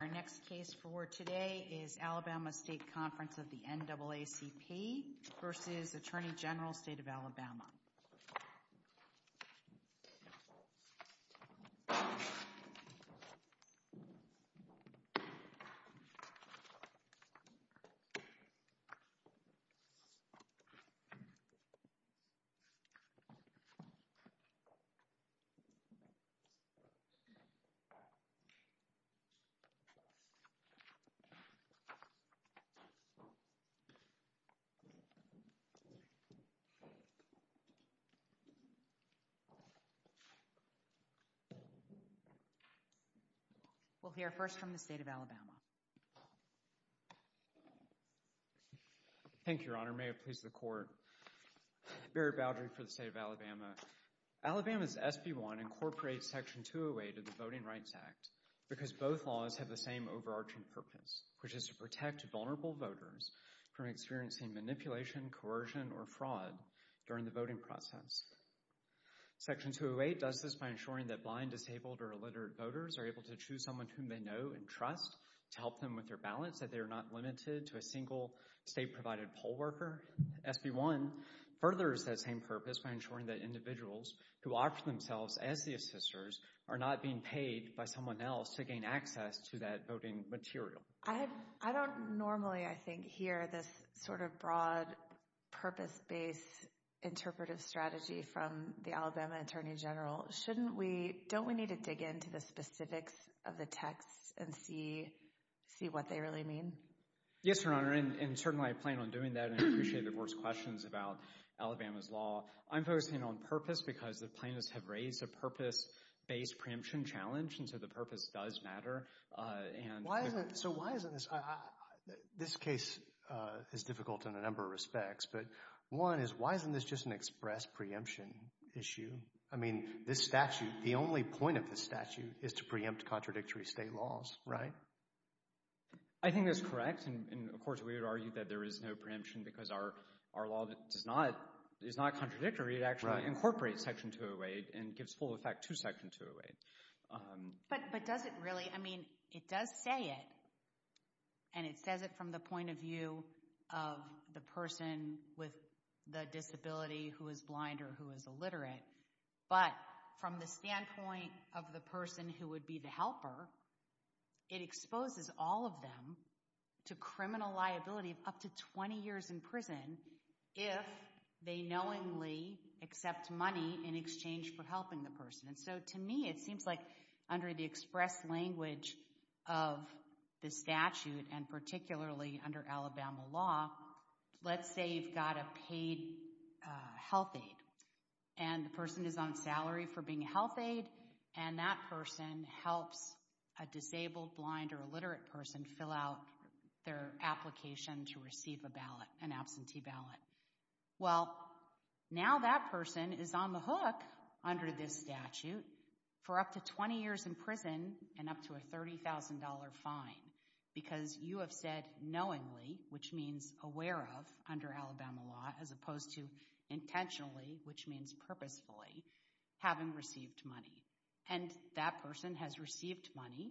Our next case for today is Alabama State Conference of the NAACP v. Attorney General, State of Alabama Alabama State Conference of the NAACP v. Attorney General, State of Alabama We'll hear first from the State of Alabama Thank you, Your Honor. May it please the Court. Barry Baldry for the State of Alabama Alabama's SB 1 incorporates Section 208 of the Voting Rights Act because both laws have the same overarching purpose, which is to protect vulnerable voters from experiencing manipulation, coercion, or fraud during the voting process. Section 208 does this by ensuring that blind, disabled, or illiterate voters are able to choose someone whom they know and trust to help them with their ballots, that they are not limited to a single state-provided poll worker. SB 1 furthers that same purpose by ensuring that individuals who opt for themselves as the assisters are not being paid by someone else to gain access to that voting material. I don't normally, I think, hear this sort of broad, purpose-based interpretive strategy from the Alabama Attorney General. Shouldn't we, don't we need to dig into the specifics of the text and see what they really mean? Yes, Your Honor, and certainly I plan on doing that, and I appreciate the Board's questions about Alabama's law. I'm focusing on purpose because the plaintiffs have raised a purpose-based preemption challenge, and so the purpose does matter. So why isn't this, this case is difficult in a number of respects, but one is why isn't this just an express preemption issue? I mean, this statute, the only point of this statute is to preempt contradictory state laws, right? I think that's correct, and of course we would argue that there is no preemption because our law is not contradictory. It actually incorporates Section 208 and gives full effect to Section 208. But does it really? I mean, it does say it, and it says it from the point of view of the person with the disability who is blind or who is illiterate. But from the standpoint of the person who would be the helper, it exposes all of them to criminal liability of up to 20 years in prison if they knowingly accept money in exchange for helping the person. And so to me, it seems like under the express language of the statute and particularly under Alabama law, let's say you've got a paid health aide and the person is on salary for being a health aide, and that person helps a disabled, blind, or illiterate person fill out their application to receive a ballot, an absentee ballot. Well, now that person is on the hook under this statute for up to 20 years in prison and up to a $30,000 fine because you have said knowingly, which means aware of under Alabama law, as opposed to intentionally, which means purposefully, having received money. And that person has received money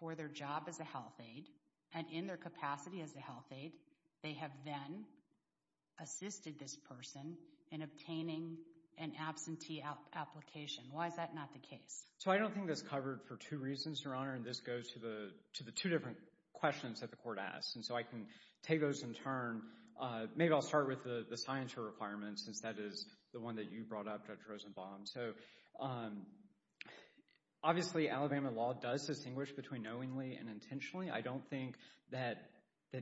for their job as a health aide and in their capacity as a health aide. They have then assisted this person in obtaining an absentee application. Why is that not the case? So I don't think that's covered for two reasons, Your Honor, and this goes to the two different questions that the court asks. And so I can take those in turn. Maybe I'll start with the scienter requirement since that is the one that you brought up, Judge Rosenbaum. So obviously, Alabama law does distinguish between knowingly and intentionally. I don't think that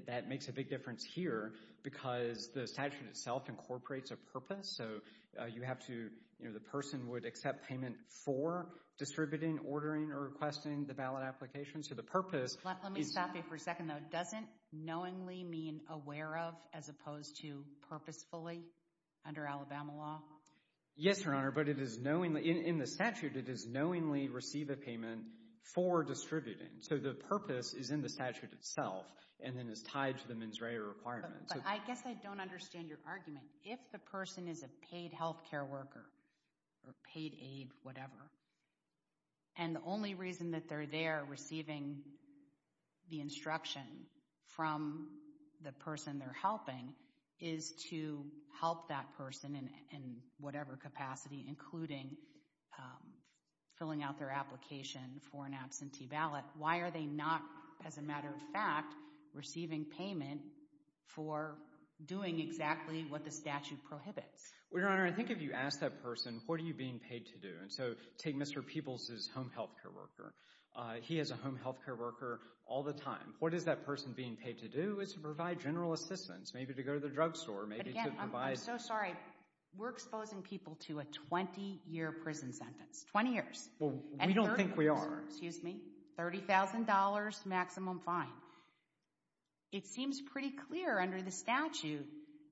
that makes a big difference here because the statute itself incorporates a purpose. So you have to, you know, the person would accept payment for distributing, ordering, or requesting the ballot application. So the purpose— Let me stop you for a second, though. Doesn't knowingly mean aware of as opposed to purposefully under Alabama law? Yes, Your Honor, but it is knowingly—in the statute, it is knowingly receive a payment for distributing. So the purpose is in the statute itself and then is tied to the mens rea requirement. But I guess I don't understand your argument. If the person is a paid health care worker or paid aid, whatever, and the only reason that they're there receiving the instruction from the person they're helping is to help that person in whatever capacity, including filling out their application for an absentee ballot, why are they not, as a matter of fact, receiving payment for doing exactly what the statute prohibits? Well, Your Honor, I think if you ask that person, what are you being paid to do? And so take Mr. Peebles's home health care worker. He has a home health care worker all the time. What is that person being paid to do is to provide general assistance, maybe to go to the drugstore, maybe to provide— But again, I'm so sorry. We're exposing people to a 20-year prison sentence. 20 years. Well, we don't think we are. $30,000 maximum fine. It seems pretty clear under the statute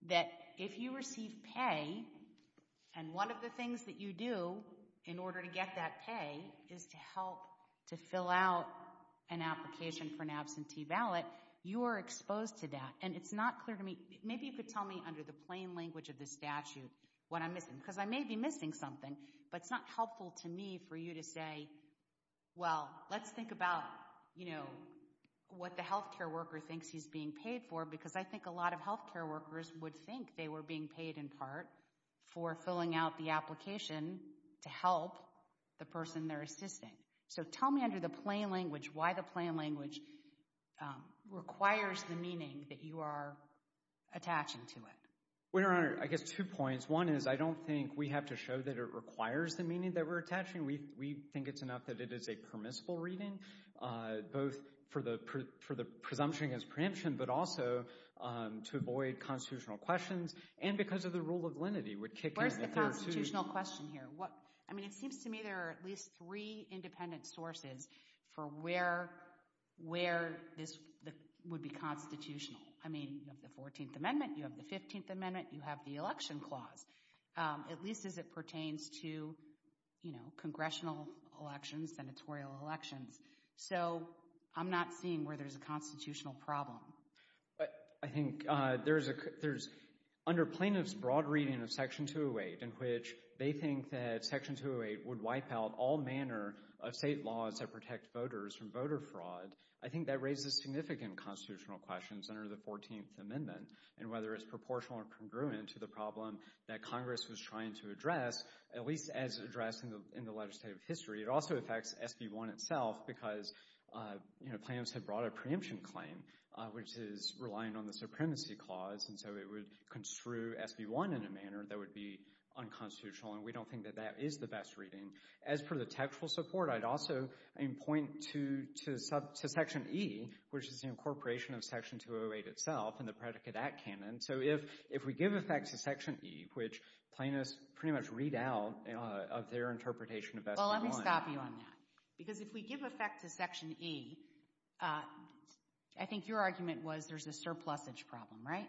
that if you receive pay, and one of the things that you do in order to get that pay is to help to fill out an application for an absentee ballot, you are exposed to that. And it's not clear to me—maybe you could tell me under the plain language of the statute what I'm missing, because I may be missing something, but it's not helpful to me for you to say, well, let's think about what the health care worker thinks he's being paid for, because I think a lot of health care workers would think they were being paid in part for filling out the application to help the person they're assisting. So tell me under the plain language why the plain language requires the meaning that you are attaching to it. Well, Your Honor, I guess two points. One is I don't think we have to show that it requires the meaning that we're attaching. We think it's enough that it is a permissible reading, both for the presumption against preemption, but also to avoid constitutional questions and because of the rule of lenity would kick in if there are two— Where's the constitutional question here? I mean, it seems to me there are at least three independent sources for where this would be constitutional. I mean, you have the 14th Amendment, you have the 15th Amendment, you have the Election Clause, at least as it pertains to, you know, congressional elections, senatorial elections. So I'm not seeing where there's a constitutional problem. I think there's—under plaintiffs' broad reading of Section 208, in which they think that Section 208 would wipe out all manner of state laws that protect voters from voter fraud, I think that raises significant constitutional questions under the 14th Amendment, and whether it's proportional or congruent to the problem that Congress was trying to address, at least as addressed in the legislative history. It also affects SB 1 itself because, you know, plaintiffs have brought a preemption claim, which is relying on the Supremacy Clause, and so it would construe SB 1 in a manner that would be unconstitutional, and we don't think that that is the best reading. As per the textual support, I'd also point to Section E, which is the incorporation of Section 208 itself in the Predicate Act canon. So if we give effect to Section E, which plaintiffs pretty much read out of their interpretation of SB 1— Well, let me stop you on that, because if we give effect to Section E, I think your argument was there's a surplusage problem, right?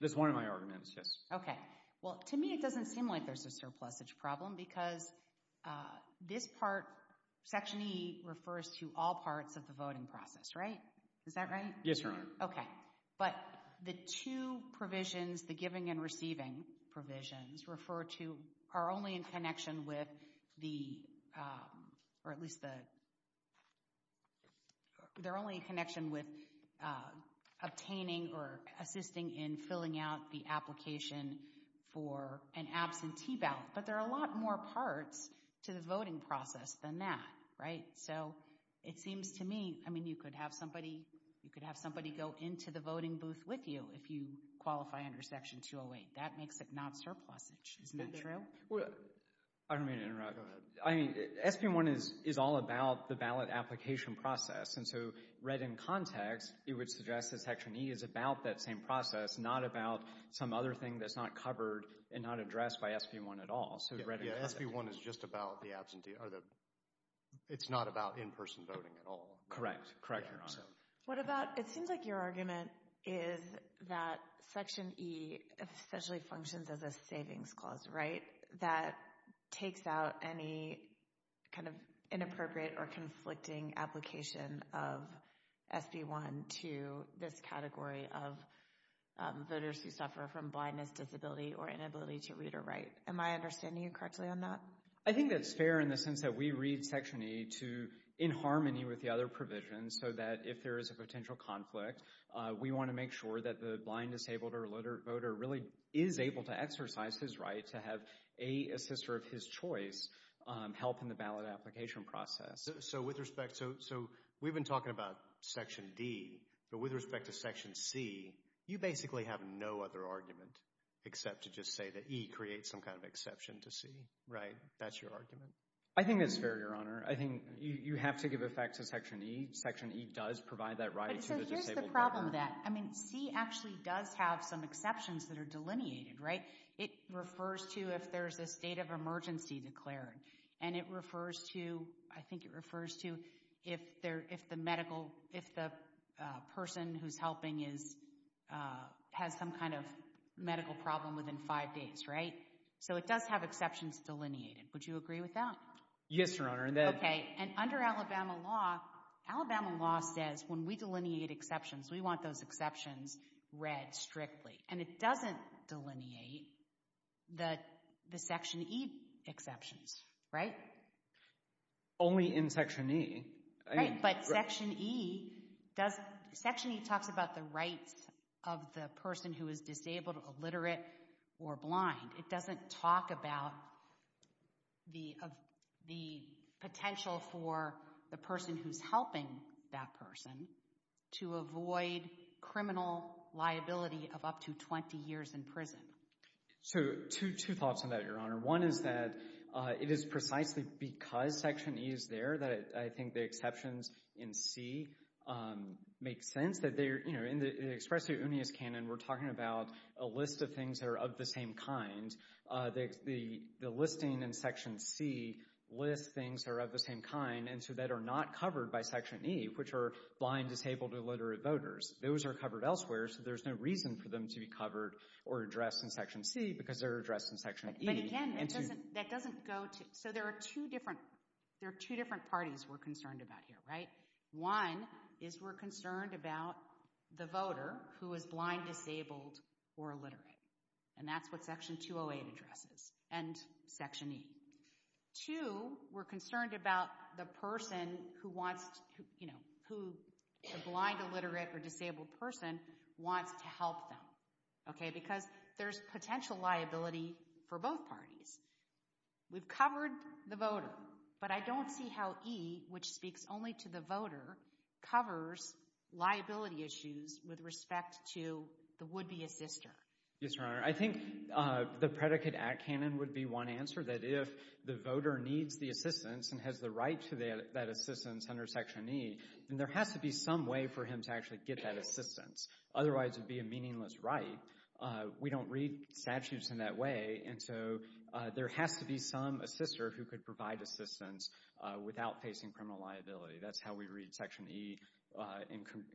That's one of my arguments, yes. Okay. Well, to me it doesn't seem like there's a surplusage problem, because this part—Section E refers to all parts of the voting process, right? Is that right? Yes, Your Honor. Okay. But the two provisions, the giving and receiving provisions, refer to—are only in connection with the—or at least the— they're only in connection with obtaining or assisting in filling out the application for an absentee ballot. But there are a lot more parts to the voting process than that, right? So it seems to me—I mean, you could have somebody go into the voting booth with you if you qualify under Section 208. That makes it not surplusage. Isn't that true? Well, I don't mean to interrupt. I mean, SB 1 is all about the ballot application process. And so read in context, it would suggest that Section E is about that same process, not about some other thing that's not covered and not addressed by SB 1 at all. So read in context. Yeah, SB 1 is just about the absentee—or the—it's not about in-person voting at all. Correct. Correct, Your Honor. What about—it seems like your argument is that Section E essentially functions as a savings clause, right? I don't think that takes out any kind of inappropriate or conflicting application of SB 1 to this category of voters who suffer from blindness, disability, or inability to read or write. Am I understanding you correctly on that? I think that's fair in the sense that we read Section E to—in harmony with the other provisions so that if there is a potential conflict, we want to make sure that the blind, disabled, or literate voter really is able to exercise his right to have a assister of his choice help in the ballot application process. So with respect—so we've been talking about Section D, but with respect to Section C, you basically have no other argument except to just say that E creates some kind of exception to C, right? That's your argument? I think that's fair, Your Honor. I think you have to give effect to Section E. Section E does provide that right to the disabled voter. The problem with that—I mean, C actually does have some exceptions that are delineated, right? It refers to if there's a state of emergency declared, and it refers to—I think it refers to if the medical— if the person who's helping is—has some kind of medical problem within five days, right? So it does have exceptions delineated. Would you agree with that? Yes, Your Honor. Okay, and under Alabama law, Alabama law says when we delineate exceptions, we want those exceptions read strictly, and it doesn't delineate the Section E exceptions, right? Only in Section E. Right, but Section E doesn't—Section E talks about the rights of the person who is disabled, illiterate, or blind. It doesn't talk about the potential for the person who's helping that person to avoid criminal liability of up to 20 years in prison. So two thoughts on that, Your Honor. One is that it is precisely because Section E is there that I think the exceptions in C make sense. In the expresso unius canon, we're talking about a list of things that are of the same kind. The listing in Section C lists things that are of the same kind and so that are not covered by Section E, which are blind, disabled, or illiterate voters. Those are covered elsewhere, so there's no reason for them to be covered or addressed in Section C because they're addressed in Section E. But again, that doesn't go to—so there are two different parties we're concerned about here, right? One is we're concerned about the voter who is blind, disabled, or illiterate. And that's what Section 208 addresses and Section E. Two, we're concerned about the person who wants—you know, who the blind, illiterate, or disabled person wants to help them. Okay, because there's potential liability for both parties. We've covered the voter, but I don't see how E, which speaks only to the voter, covers liability issues with respect to the would-be assister. Yes, Your Honor. I think the predicate act canon would be one answer, that if the voter needs the assistance and has the right to that assistance under Section E, then there has to be some way for him to actually get that assistance. Otherwise, it would be a meaningless right. We don't read statutes in that way, and so there has to be some assister who could provide assistance without facing criminal liability. That's how we read Section E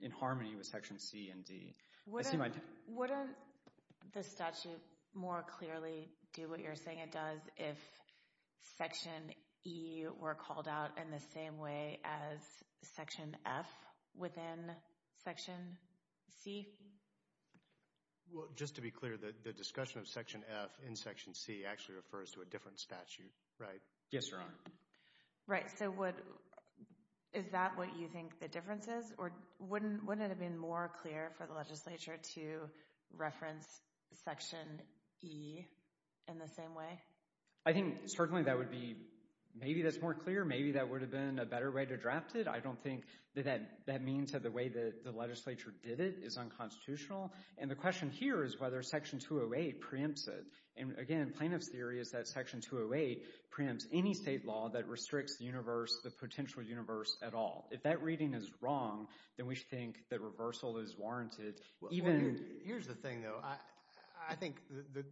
in harmony with Section C and D. Wouldn't the statute more clearly do what you're saying it does if Section E were called out in the same way as Section F within Section C? Well, just to be clear, the discussion of Section F in Section C actually refers to a different statute, right? Yes, Your Honor. Right, so would—is that what you think the difference is? Or wouldn't it have been more clear for the legislature to reference Section E in the same way? I think certainly that would be—maybe that's more clear. Maybe that would have been a better way to draft it. I don't think that that means that the way that the legislature did it is unconstitutional. And the question here is whether Section 208 preempts it. And again, plaintiff's theory is that Section 208 preempts any state law that restricts the universe, the potential universe at all. If that reading is wrong, then we should think that reversal is warranted. Here's the thing, though. I think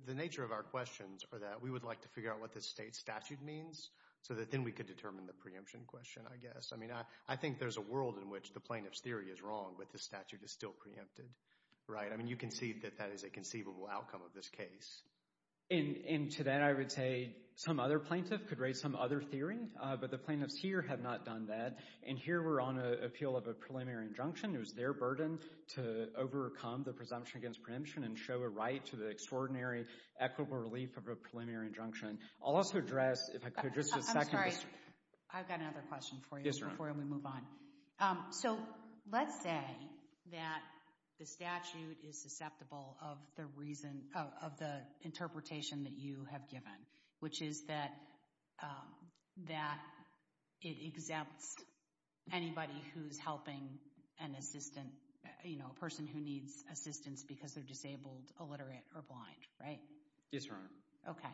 the nature of our questions are that we would like to figure out what this state statute means so that then we could determine the preemption question, I guess. I mean, I think there's a world in which the plaintiff's theory is wrong, but the statute is still preempted, right? I mean, you can see that that is a conceivable outcome of this case. And to that I would say some other plaintiff could raise some other theory, but the plaintiffs here have not done that. And here we're on an appeal of a preliminary injunction. It was their burden to overcome the presumption against preemption and show a right to the extraordinary equitable relief of a preliminary injunction. I'll also address, if I could, just a second. I'm sorry. I've got another question for you before we move on. So let's say that the statute is susceptible of the interpretation that you have given, which is that it exempts anybody who's helping an assistant, you know, a person who needs assistance because they're disabled, illiterate, or blind, right? Yes, Your Honor. Okay.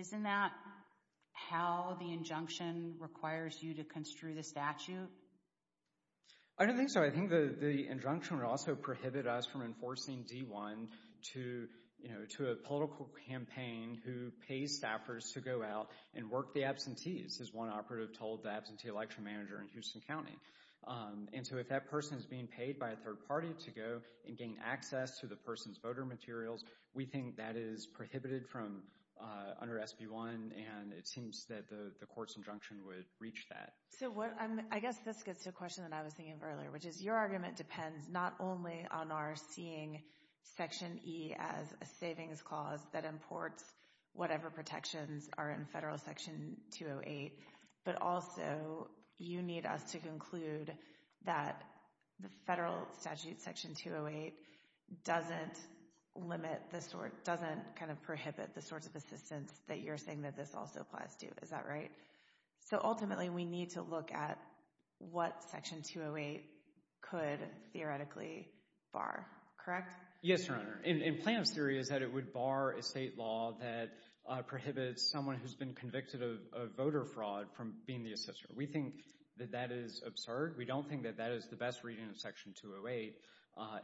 Isn't that how the injunction requires you to construe the statute? I don't think so. I think the injunction would also prohibit us from enforcing D-1 to a political campaign who pays staffers to go out and work the absentees, as one operative told the absentee election manager in Houston County. And so if that person is being paid by a third party to go and gain access to the person's voter materials, we think that is prohibited under SB-1, and it seems that the court's injunction would reach that. So I guess this gets to a question that I was thinking of earlier, which is your argument depends not only on our seeing Section E as a savings clause that imports whatever protections are in Federal Section 208, but also you need us to conclude that the Federal Statute Section 208 doesn't kind of prohibit the sorts of assistance that you're saying that this also applies to. Is that right? So ultimately we need to look at what Section 208 could theoretically bar, correct? Yes, Your Honor. And Plano's theory is that it would bar a state law that prohibits someone who's been convicted of voter fraud from being the assister. We think that that is absurd. We don't think that that is the best reading of Section 208.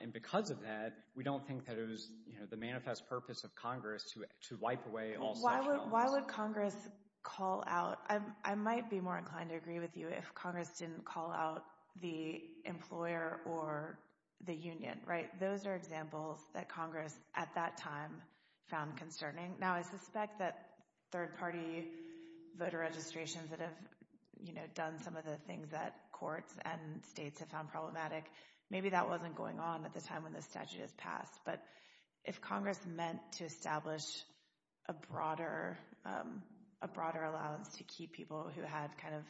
And because of that, we don't think that it was the manifest purpose of Congress to wipe away all such problems. Why would Congress call out? I might be more inclined to agree with you if Congress didn't call out the employer or the union, right? Those are examples that Congress at that time found concerning. Now, I suspect that third-party voter registrations that have, you know, done some of the things that courts and states have found problematic, maybe that wasn't going on at the time when the statute was passed. But if Congress meant to establish a broader allowance to keep people who had kind of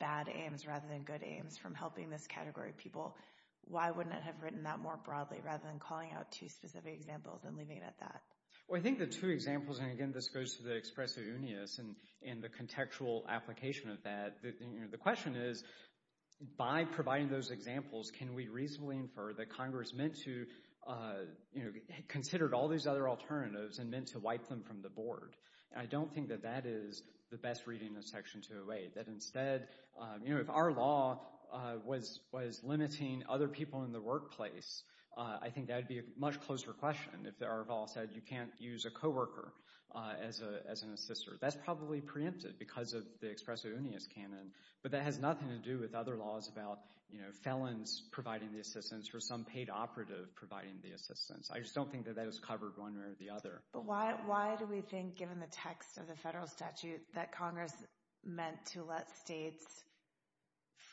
bad aims rather than good aims from helping this category of people, why wouldn't it have written that more broadly rather than calling out two specific examples and leaving it at that? Well, I think the two examples, and again this goes to the expressiveness and the contextual application of that, the question is, by providing those examples, can we reasonably infer that Congress meant to, you know, considered all these other alternatives and meant to wipe them from the board? And I don't think that that is the best reading of Section 208. That instead, you know, if our law was limiting other people in the workplace, I think that would be a much closer question. If our law said you can't use a co-worker as an assister, that's probably preempted because of the expressiveness canon. But that has nothing to do with other laws about, you know, felons providing the assistance or some paid operative providing the assistance. I just don't think that that is covered one way or the other. But why do we think, given the text of the federal statute, that Congress meant to let states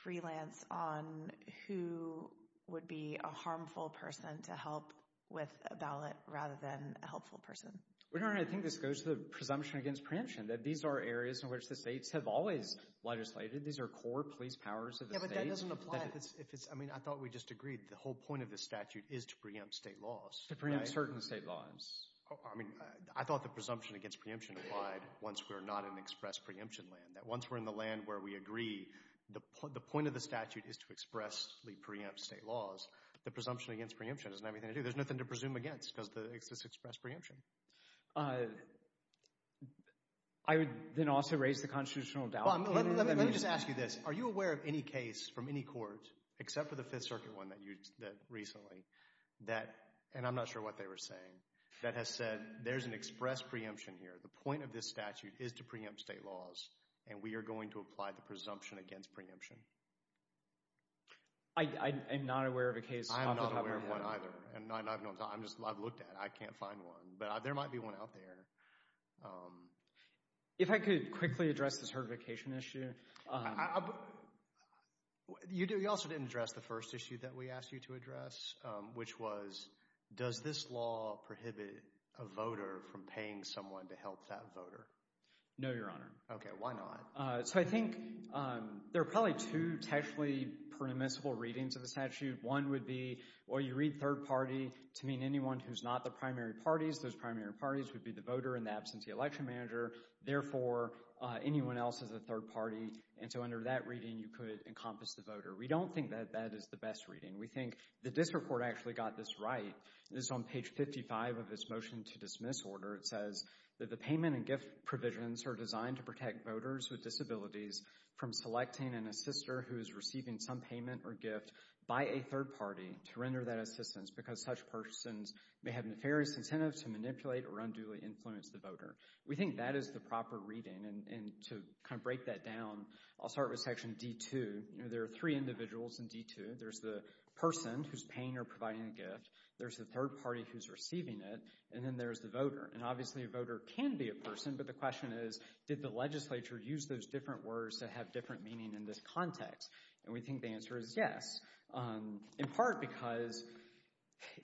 freelance on who would be a harmful person to help with a ballot rather than a helpful person? We don't really think this goes to the presumption against preemption, that these are areas in which the states have always legislated. These are core police powers of the state. Yeah, but that doesn't apply if it's, I mean, I thought we just agreed. The whole point of this statute is to preempt state laws. To preempt certain state laws. I mean, I thought the presumption against preemption applied once we're not in express preemption land. That once we're in the land where we agree, the point of the statute is to expressly preempt state laws. The presumption against preemption doesn't have anything to do, there's nothing to presume against because it's express preemption. I would then also raise the constitutional doubt. Let me just ask you this. Are you aware of any case from any court, except for the Fifth Circuit one that you did recently, that, and I'm not sure what they were saying, that has said there's an express preemption here, the point of this statute is to preempt state laws, and we are going to apply the presumption against preemption? I'm not aware of a case. I'm not aware of one either. I've looked at it. I can't find one. But there might be one out there. If I could quickly address this certification issue. You also didn't address the first issue that we asked you to address, which was, does this law prohibit a voter from paying someone to help that voter? No, Your Honor. Okay, why not? So I think there are probably two textually permissible readings of the statute. One would be, well, you read third party to mean anyone who's not the primary parties. Those primary parties would be the voter in the absence of the election manager. Therefore, anyone else is a third party. And so under that reading, you could encompass the voter. We don't think that that is the best reading. We think the district court actually got this right. It's on page 55 of its motion to dismiss order. It says that the payment and gift provisions are designed to protect voters with disabilities from selecting an assister who is receiving some payment or gift by a third party to render that assistance because such persons may have nefarious incentives to manipulate or unduly influence the voter. We think that is the proper reading. And to kind of break that down, I'll start with section D-2. There are three individuals in D-2. There's the person who's paying or providing a gift. There's the third party who's receiving it. And then there's the voter. And obviously a voter can be a person. But the question is, did the legislature use those different words to have different meaning in this context? And we think the answer is yes. In part because,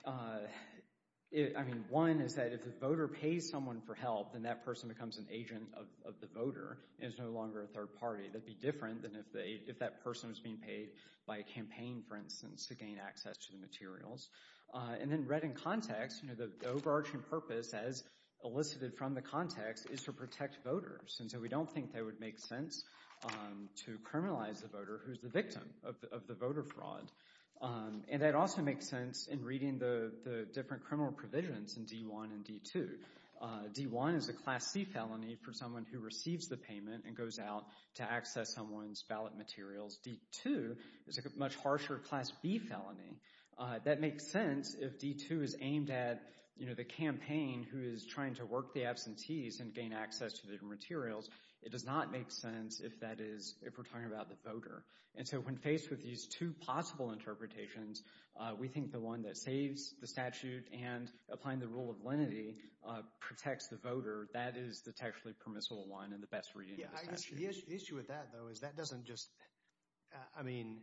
I mean, one is that if the voter pays someone for help, then that person becomes an agent of the voter and is no longer a third party. That would be different than if that person was being paid by a campaign, for instance, to gain access to the materials. And then read in context, the overarching purpose as elicited from the context is to protect voters. And so we don't think that would make sense to criminalize the voter who's the victim of the voter fraud. And that also makes sense in reading the different criminal provisions in D-1 and D-2. D-1 is a Class C felony for someone who receives the payment and goes out to access someone's ballot materials. D-2 is a much harsher Class B felony. That makes sense if D-2 is aimed at the campaign who is trying to work the absentees and gain access to the materials. It does not make sense if we're talking about the voter. And so when faced with these two possible interpretations, we think the one that saves the statute and applying the rule of lenity protects the voter. That is the textually permissible one and the best reading of the statute. The issue with that, though, is that doesn't just—I mean,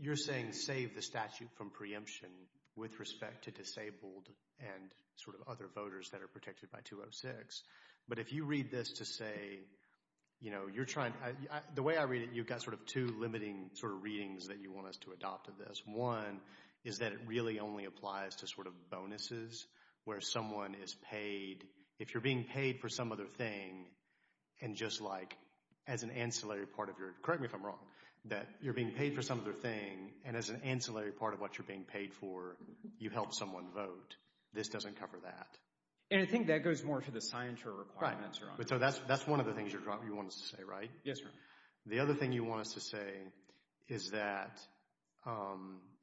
you're saying save the statute from preemption with respect to disabled and sort of other voters that are protected by 206. But if you read this to say, you know, you're trying—the way I read it, you've got sort of two limiting sort of readings that you want us to adopt of this. One is that it really only applies to sort of bonuses where someone is paid. If you're being paid for some other thing and just like as an ancillary part of your— correct me if I'm wrong—that you're being paid for some other thing and as an ancillary part of what you're being paid for, you help someone vote. This doesn't cover that. And I think that goes more to the signature requirements. Right. So that's one of the things you want us to say, right? Yes, sir. The other thing you want us to say is that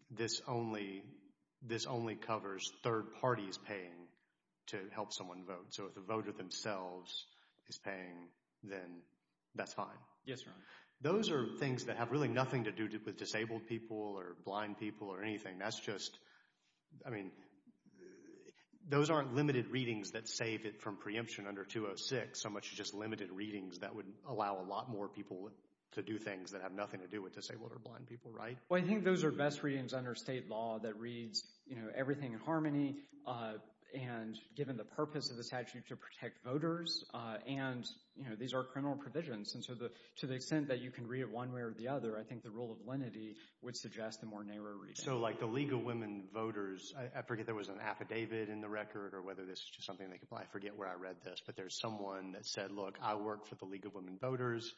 this only covers third parties paying to help someone vote. So if the voter themselves is paying, then that's fine. Yes, sir. Those are things that have really nothing to do with disabled people or blind people or anything. That's just—I mean, those aren't limited readings that save it from preemption under 206, so much as just limited readings that would allow a lot more people to do things that have nothing to do with disabled or blind people, right? Well, I think those are best readings under state law that reads, you know, everything in harmony and given the purpose of the statute to protect voters. And, you know, these are criminal provisions. And so to the extent that you can read it one way or the other, I think the rule of lenity would suggest a more narrow reading. So like the League of Women Voters, I forget there was an affidavit in the record or whether this is just something that—I forget where I read this, but there's someone that said, look, I work for the League of Women Voters.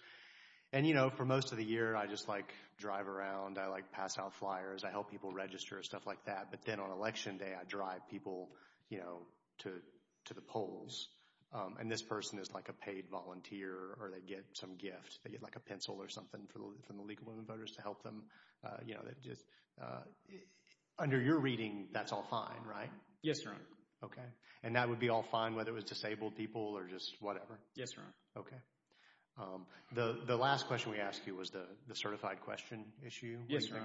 And, you know, for most of the year, I just, like, drive around. I, like, pass out flyers. I help people register and stuff like that. But then on Election Day, I drive people, you know, to the polls. And this person is, like, a paid volunteer or they get some gift. They get, like, a pencil or something from the League of Women Voters to help them. You know, under your reading, that's all fine, right? Yes, Your Honor. Okay. And that would be all fine whether it was disabled people or just whatever? Yes, Your Honor. Okay. The last question we asked you was the certified question issue. Yes, Your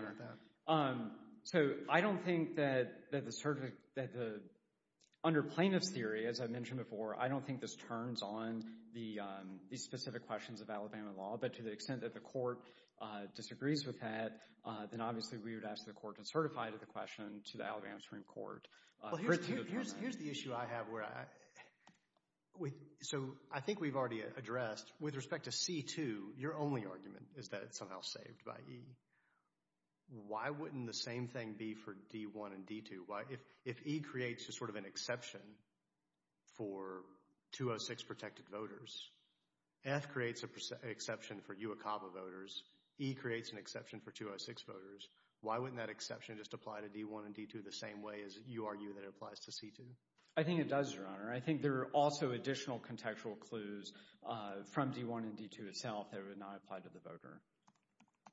Honor. What do you think about that? So I don't think that the—under plaintiff's theory, as I mentioned before, I don't think this turns on these specific questions of Alabama law. But to the extent that the court disagrees with that, then obviously we would ask the court to certify the question to the Alabama Supreme Court. Here's the issue I have where I—so I think we've already addressed. With respect to C-2, your only argument is that it's somehow saved by E. Why wouldn't the same thing be for D-1 and D-2? If E creates just sort of an exception for 206 protected voters, F creates an exception for UOCAVA voters, E creates an exception for 206 voters, why wouldn't that exception just apply to D-1 and D-2 the same way as you argue that it applies to C-2? I think it does, Your Honor. I think there are also additional contextual clues from D-1 and D-2 itself that would not apply to the voter.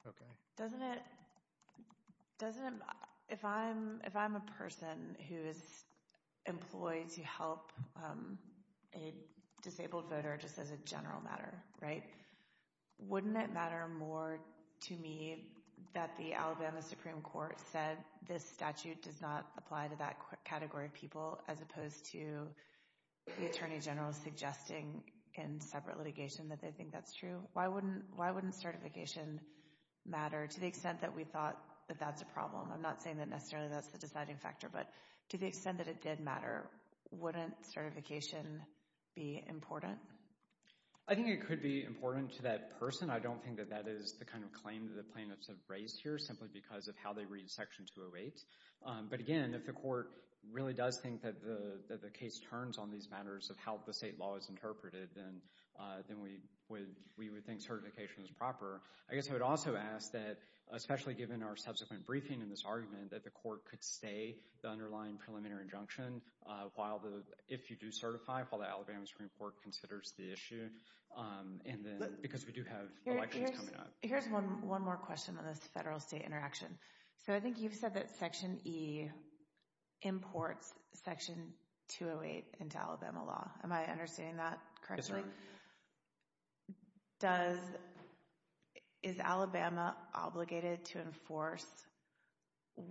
Okay. Doesn't it—if I'm a person who is employed to help a disabled voter just as a general matter, right, wouldn't it matter more to me that the Alabama Supreme Court said this statute does not apply to that category of people as opposed to the Attorney General suggesting in separate litigation that they think that's true? Why wouldn't certification matter to the extent that we thought that that's a problem? I'm not saying that necessarily that's the deciding factor, but to the extent that it did matter, wouldn't certification be important? I think it could be important to that person. I don't think that that is the kind of claim that the plaintiffs have raised here simply because of how they read Section 208. But again, if the court really does think that the case turns on these matters of how the state law is interpreted, then we would think certification is proper. I guess I would also ask that, especially given our subsequent briefing in this argument, that the court could stay the underlying preliminary injunction if you do certify, while the Alabama Supreme Court considers the issue, because we do have elections coming up. Here's one more question on this federal-state interaction. So I think you've said that Section E imports Section 208 into Alabama law. Am I understanding that correctly? Yes, ma'am. Is Alabama obligated to enforce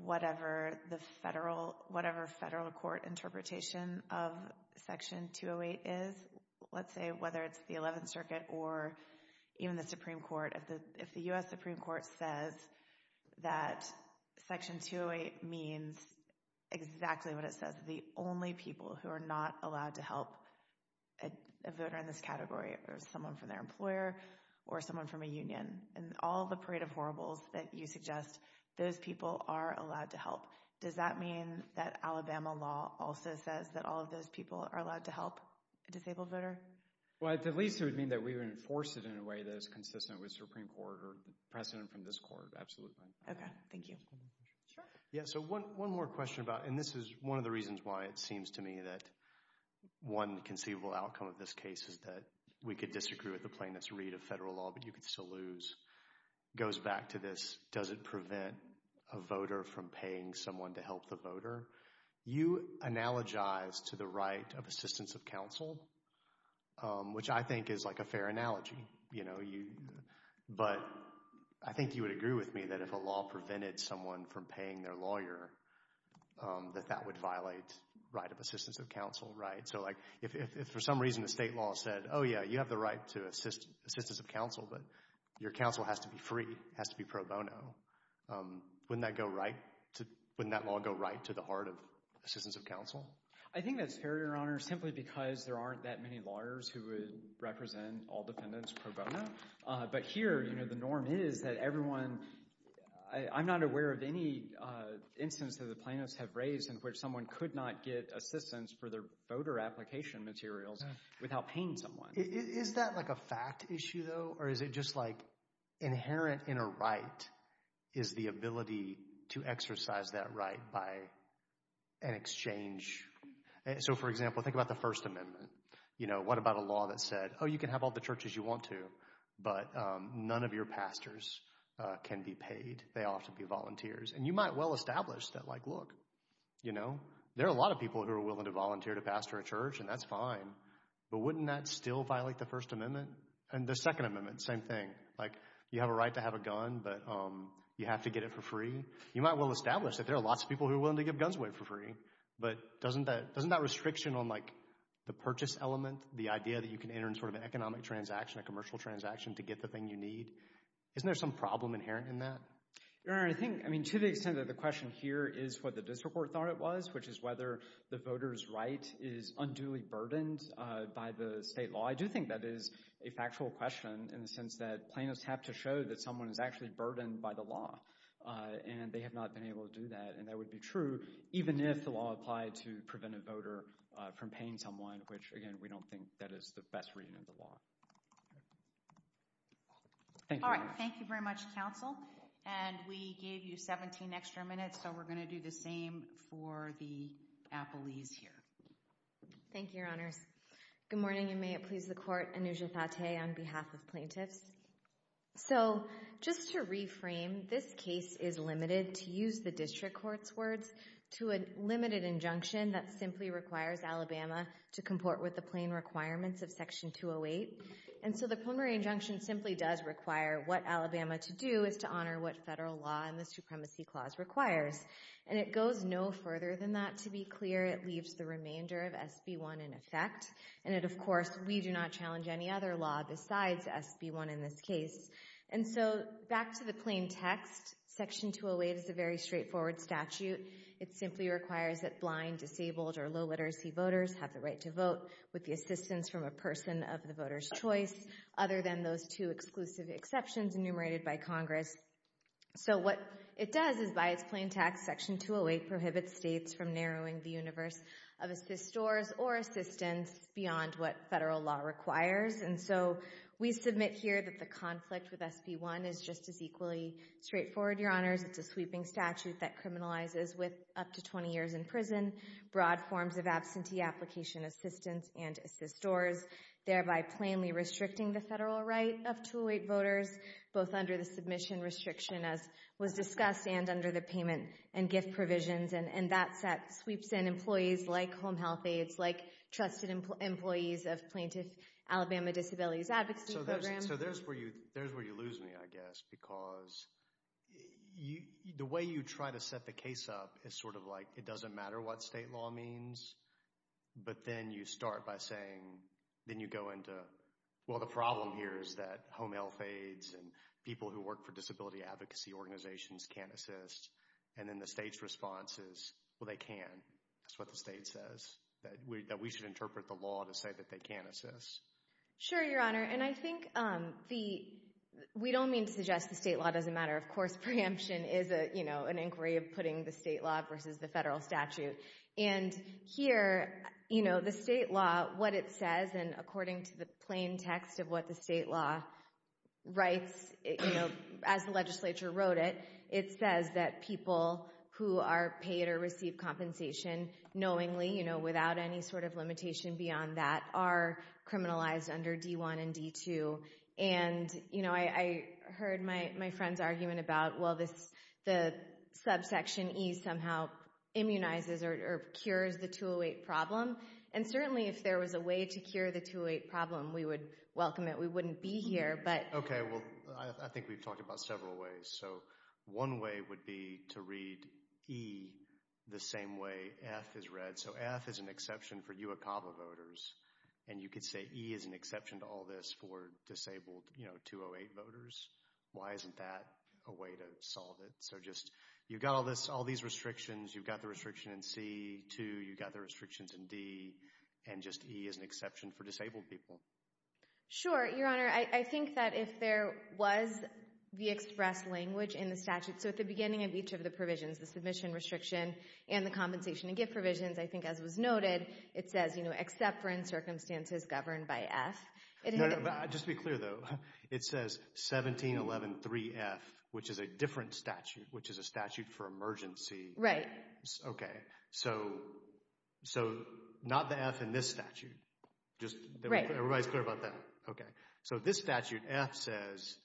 whatever the federal court interpretation of Section 208 is? Let's say whether it's the 11th Circuit or even the Supreme Court. If the U.S. Supreme Court says that Section 208 means exactly what it says, that the only people who are not allowed to help a voter in this category are someone from their employer or someone from a union, and all the parade of horribles that you suggest, those people are allowed to help. Does that mean that Alabama law also says that all of those people are allowed to help a disabled voter? Well, at least it would mean that we would enforce it in a way that is consistent with the Supreme Court or the precedent from this court, absolutely. Okay, thank you. Yeah, so one more question about – and this is one of the reasons why it seems to me that one conceivable outcome of this case is that we could disagree with the plaintiffs' read of federal law, but you could still lose. It goes back to this, does it prevent a voter from paying someone to help the voter? You analogize to the right of assistance of counsel, which I think is like a fair analogy. But I think you would agree with me that if a law prevented someone from paying their lawyer, that that would violate right of assistance of counsel, right? So like if for some reason the state law said, oh yeah, you have the right to assistance of counsel, but your counsel has to be free, has to be pro bono, wouldn't that go right? Wouldn't that law go right to the heart of assistance of counsel? I think that's fair, Your Honor, simply because there aren't that many lawyers who would represent all defendants pro bono. But here the norm is that everyone – I'm not aware of any instance that the plaintiffs have raised in which someone could not get assistance for their voter application materials without paying someone. Is that like a fact issue, though, or is it just like inherent in a right is the ability to exercise that right by an exchange? So for example, think about the First Amendment. You know, what about a law that said, oh, you can have all the churches you want to, but none of your pastors can be paid. They often be volunteers. And you might well establish that like, look, you know, there are a lot of people who are willing to volunteer to pastor a church, and that's fine. But wouldn't that still violate the First Amendment? And the Second Amendment, same thing. Like, you have a right to have a gun, but you have to get it for free. You might well establish that there are lots of people who are willing to give guns away for free. But doesn't that restriction on like the purchase element, the idea that you can enter in sort of an economic transaction, a commercial transaction to get the thing you need, isn't there some problem inherent in that? Your Honor, I think, I mean, to the extent that the question here is what the district court thought it was, which is whether the voter's right is unduly burdened by the state law, I do think that is a factual question in the sense that plaintiffs have to show that someone is actually burdened by the law. And they have not been able to do that. And that would be true even if the law applied to prevent a voter from paying someone, which, again, we don't think that is the best reading of the law. All right. Thank you very much, counsel. And we gave you 17 extra minutes, so we're going to do the same for the appellees here. Thank you, Your Honors. Good morning, and may it please the Court. Anuja Fateh on behalf of plaintiffs. So just to reframe, this case is limited, to use the district court's words, to a limited injunction that simply requires Alabama to comport with the plain requirements of Section 208. And so the preliminary injunction simply does require what Alabama to do is to honor what federal law and the Supremacy Clause requires. And it goes no further than that. To be clear, it leaves the remainder of SB 1 in effect. And it, of course, we do not challenge any other law besides SB 1 in this case. And so back to the plain text, Section 208 is a very straightforward statute. It simply requires that blind, disabled, or low literacy voters have the right to vote with the assistance from a person of the voter's choice, other than those two exclusive exceptions enumerated by Congress. So what it does is by its plain text, Section 208 prohibits states from narrowing the universe of assist stores or assistance beyond what federal law requires. And so we submit here that the conflict with SB 1 is just as equally straightforward, Your Honors. It's a sweeping statute that criminalizes with up to 20 years in prison, broad forms of absentee application assistance and assist stores, thereby plainly restricting the federal right of 208 voters, both under the submission restriction as was discussed and under the payment and gift provisions. And that sweeps in employees like home health aides, like trusted employees of plaintiff Alabama Disabilities Advocacy Program. And so there's where you lose me, I guess, because the way you try to set the case up is sort of like, it doesn't matter what state law means, but then you start by saying, then you go into, well, the problem here is that home health aides and people who work for disability advocacy organizations can't assist. And then the state's response is, well, they can. That's what the state says, that we should interpret the law to say that they can't assist. Sure, Your Honor. And I think we don't mean to suggest the state law doesn't matter. Of course, preemption is an inquiry of putting the state law versus the federal statute. And here, the state law, what it says, and according to the plain text of what the state law writes, as the legislature wrote it, it says that people who are paid or receive compensation knowingly, without any sort of limitation beyond that, are criminalized under D-1 and D-2. And I heard my friend's argument about, well, the subsection E somehow immunizes or cures the 208 problem. And certainly, if there was a way to cure the 208 problem, we would welcome it. We wouldn't be here. Okay, well, I think we've talked about several ways. So one way would be to read E the same way F is read. So F is an exception for UOCAVA voters. And you could say E is an exception to all this for disabled 208 voters. Why isn't that a way to solve it? So just you've got all these restrictions. You've got the restriction in C-2. You've got the restrictions in D. And just E is an exception for disabled people. Sure, Your Honor. I think that if there was the express language in the statute, so at the beginning of each of the provisions, the submission restriction and the compensation and gift provisions, I think as was noted, it says, you know, except for in circumstances governed by F. Just to be clear, though, it says 17113F, which is a different statute, which is a statute for emergency. Right. Okay. So not the F in this statute. Right. Everybody's clear about that? Okay. So this statute, F says,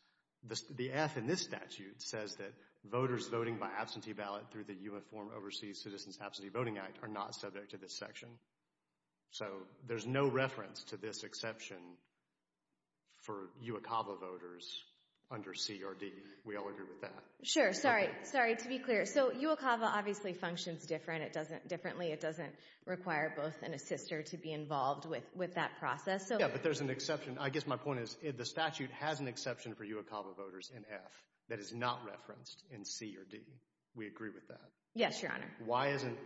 the F in this statute says that voters voting by absentee ballot through the Uniform Overseas Citizens Absentee Voting Act are not subject to this section. So there's no reference to this exception for UOCAVA voters under C or D. We all agree with that. Sure. Sorry. Sorry. To be clear. So UOCAVA obviously functions differently. It doesn't require both an assister to be involved with that process. Yeah, but there's an exception. I guess my point is the statute has an exception for UOCAVA voters in F that is not referenced in C or D. We agree with that. Yes, Your Honor. Why isn't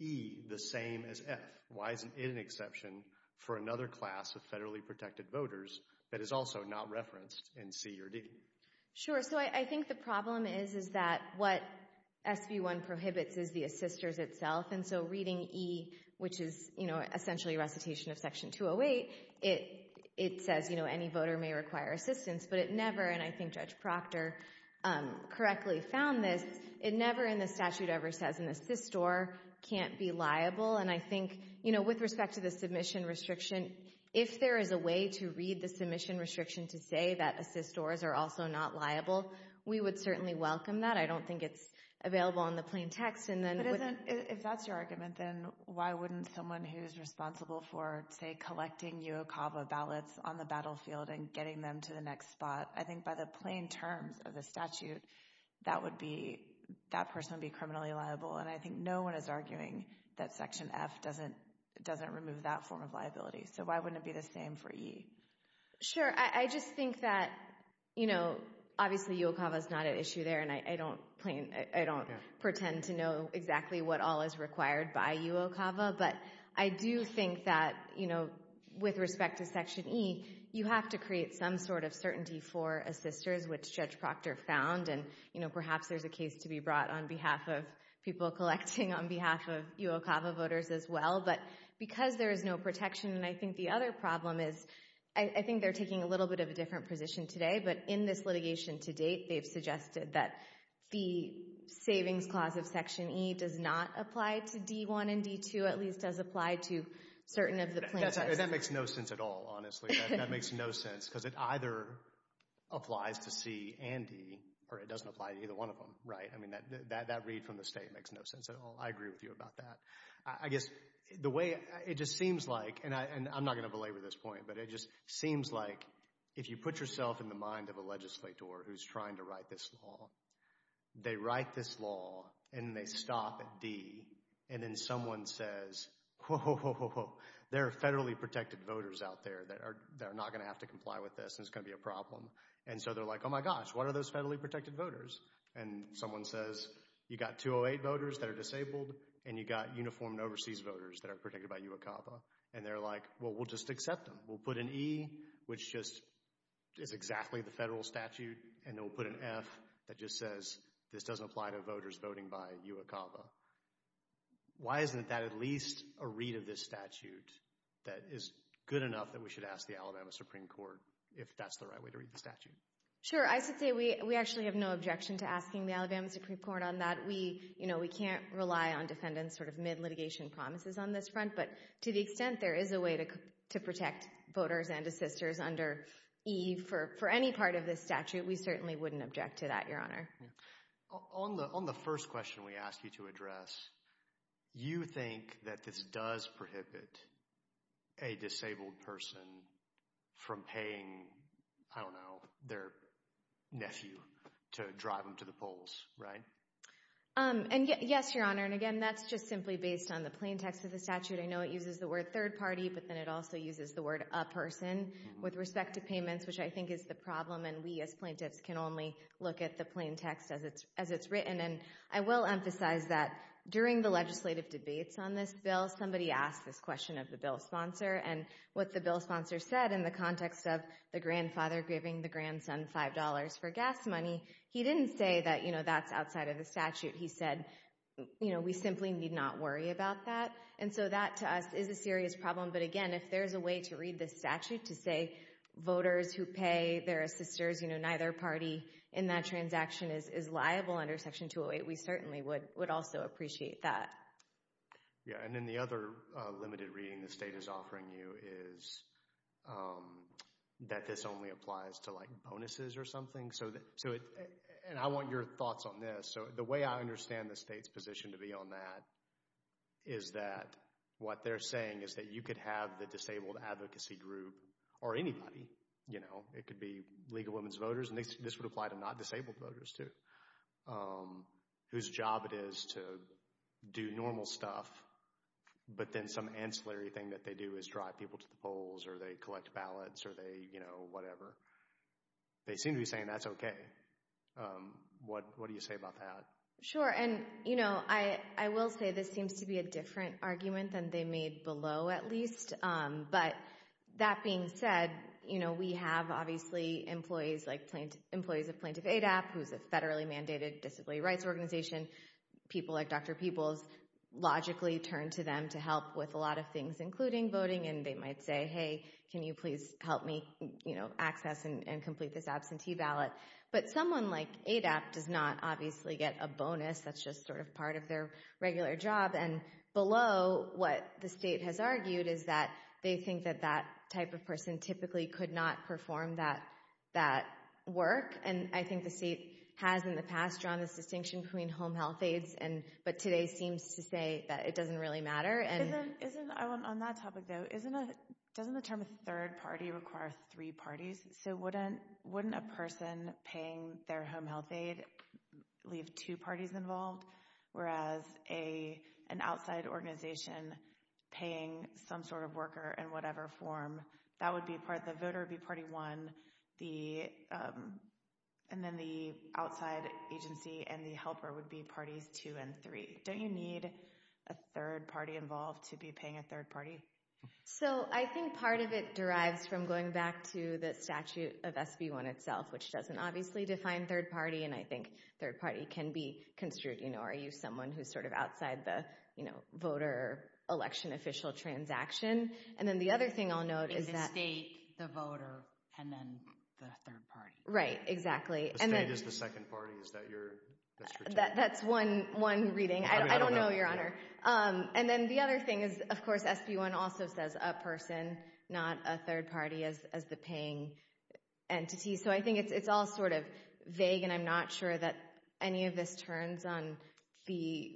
E the same as F? Why isn't it an exception for another class of federally protected voters that is also not referenced in C or D? Sure. So I think the problem is that what SB1 prohibits is the assisters itself, and so reading E, which is, you know, essentially recitation of Section 208, it says, you know, any voter may require assistance, but it never, and I think Judge Proctor correctly found this, it never in the statute ever says an assistor can't be liable, and I think, you know, with respect to the submission restriction, if there is a way to read the submission restriction to say that assistors are also not liable, we would certainly welcome that. I don't think it's available in the plain text. But if that's your argument, then why wouldn't someone who's responsible for, say, collecting UOCAVA ballots on the battlefield and getting them to the next spot, I think by the plain terms of the statute, that person would be criminally liable, and I think no one is arguing that Section F doesn't remove that form of liability. So why wouldn't it be the same for E? Sure. I just think that, you know, obviously UOCAVA is not at issue there, and I don't pretend to know exactly what all is required by UOCAVA, but I do think that, you know, with respect to Section E, you have to create some sort of certainty for assistors, which Judge Proctor found, and, you know, perhaps there's a case to be brought on behalf of people collecting on behalf of UOCAVA voters as well, but because there is no protection, and I think the other problem is I think they're taking a little bit of a different position today, but in this litigation to date they've suggested that the savings clause of Section E does not apply to D-1 and D-2, at least does apply to certain of the plaintiffs. That makes no sense at all, honestly. That makes no sense because it either applies to C and D, or it doesn't apply to either one of them, right? I mean, that read from the state makes no sense at all. I agree with you about that. I guess the way it just seems like, and I'm not going to belabor this point, but it just seems like if you put yourself in the mind of a legislator who's trying to write this law, they write this law, and they stop at D, and then someone says, whoa, there are federally protected voters out there that are not going to have to comply with this, and it's going to be a problem, and so they're like, oh my gosh, what are those federally protected voters? And someone says, you've got 208 voters that are disabled, and you've got uniformed overseas voters that are protected by UOCAVA, and they're like, well, we'll just accept them. We'll put an E, which just is exactly the federal statute, and we'll put an F that just says this doesn't apply to voters voting by UOCAVA. Why isn't that at least a read of this statute that is good enough that we should ask the Alabama Supreme Court if that's the right way to read the statute? Sure. I should say we actually have no objection to asking the Alabama Supreme Court on that. We can't rely on defendants sort of mid-litigation promises on this front, but to the extent there is a way to protect voters and assisters under E for any part of this statute, we certainly wouldn't object to that, Your Honor. On the first question we asked you to address, you think that this does prohibit a disabled person from paying, I don't know, their nephew to drive them to the polls, right? Yes, Your Honor, and again, that's just simply based on the plain text of the statute. I know it uses the word third party, but then it also uses the word a person with respect to payments, which I think is the problem, and we as plaintiffs can only look at the plain text as it's written. And I will emphasize that during the legislative debates on this bill, somebody asked this question of the bill sponsor, and what the bill sponsor said in the context of the grandfather giving the grandson $5 for gas money, he didn't say that, you know, that's outside of the statute. He said, you know, we simply need not worry about that, and so that to us is a serious problem. But again, if there's a way to read this statute to say voters who pay their assisters, you know, neither party in that transaction is liable under Section 208, we certainly would also appreciate that. Yeah, and then the other limited reading the state is offering you is that this only applies to, like, bonuses or something. So, and I want your thoughts on this. So the way I understand the state's position to be on that is that what they're saying is that you could have the disabled advocacy group or anybody, you know. It could be League of Women Voters, and this would apply to not disabled voters too, whose job it is to do normal stuff, but then some ancillary thing that they do is drive people to the polls, or they collect ballots, or they, you know, whatever. They seem to be saying that's okay. What do you say about that? Sure, and, you know, I will say this seems to be a different argument than they made below at least, but that being said, you know, we have obviously employees like employees of Plaintiff ADAP, who's a federally mandated disability rights organization. People like Dr. Peebles logically turn to them to help with a lot of things, including voting, and they might say, hey, can you please help me, you know, access and complete this absentee ballot? But someone like ADAP does not obviously get a bonus. That's just sort of part of their regular job, and below what the state has argued is that they think that that type of person typically could not perform that work, and I think the state has in the past drawn this distinction between home health aides, but today seems to say that it doesn't really matter. On that topic, though, doesn't the term third party require three parties? So wouldn't a person paying their home health aide leave two parties involved, whereas an outside organization paying some sort of worker in whatever form, that would be part of the voter would be party one, and then the outside agency and the helper would be parties two and three. Don't you need a third party involved to be paying a third party? So I think part of it derives from going back to the statute of SB1 itself, which doesn't obviously define third party, and I think third party can be construed, you know, are you someone who's sort of outside the, you know, voter election official transaction? And then the other thing I'll note is that— In the state, the voter, and then the third party. Right, exactly. The state is the second party. Is that your— That's one reading. I don't know, Your Honor. And then the other thing is, of course, SB1 also says a person, not a third party as the paying entity, so I think it's all sort of vague, and I'm not sure that any of this turns on the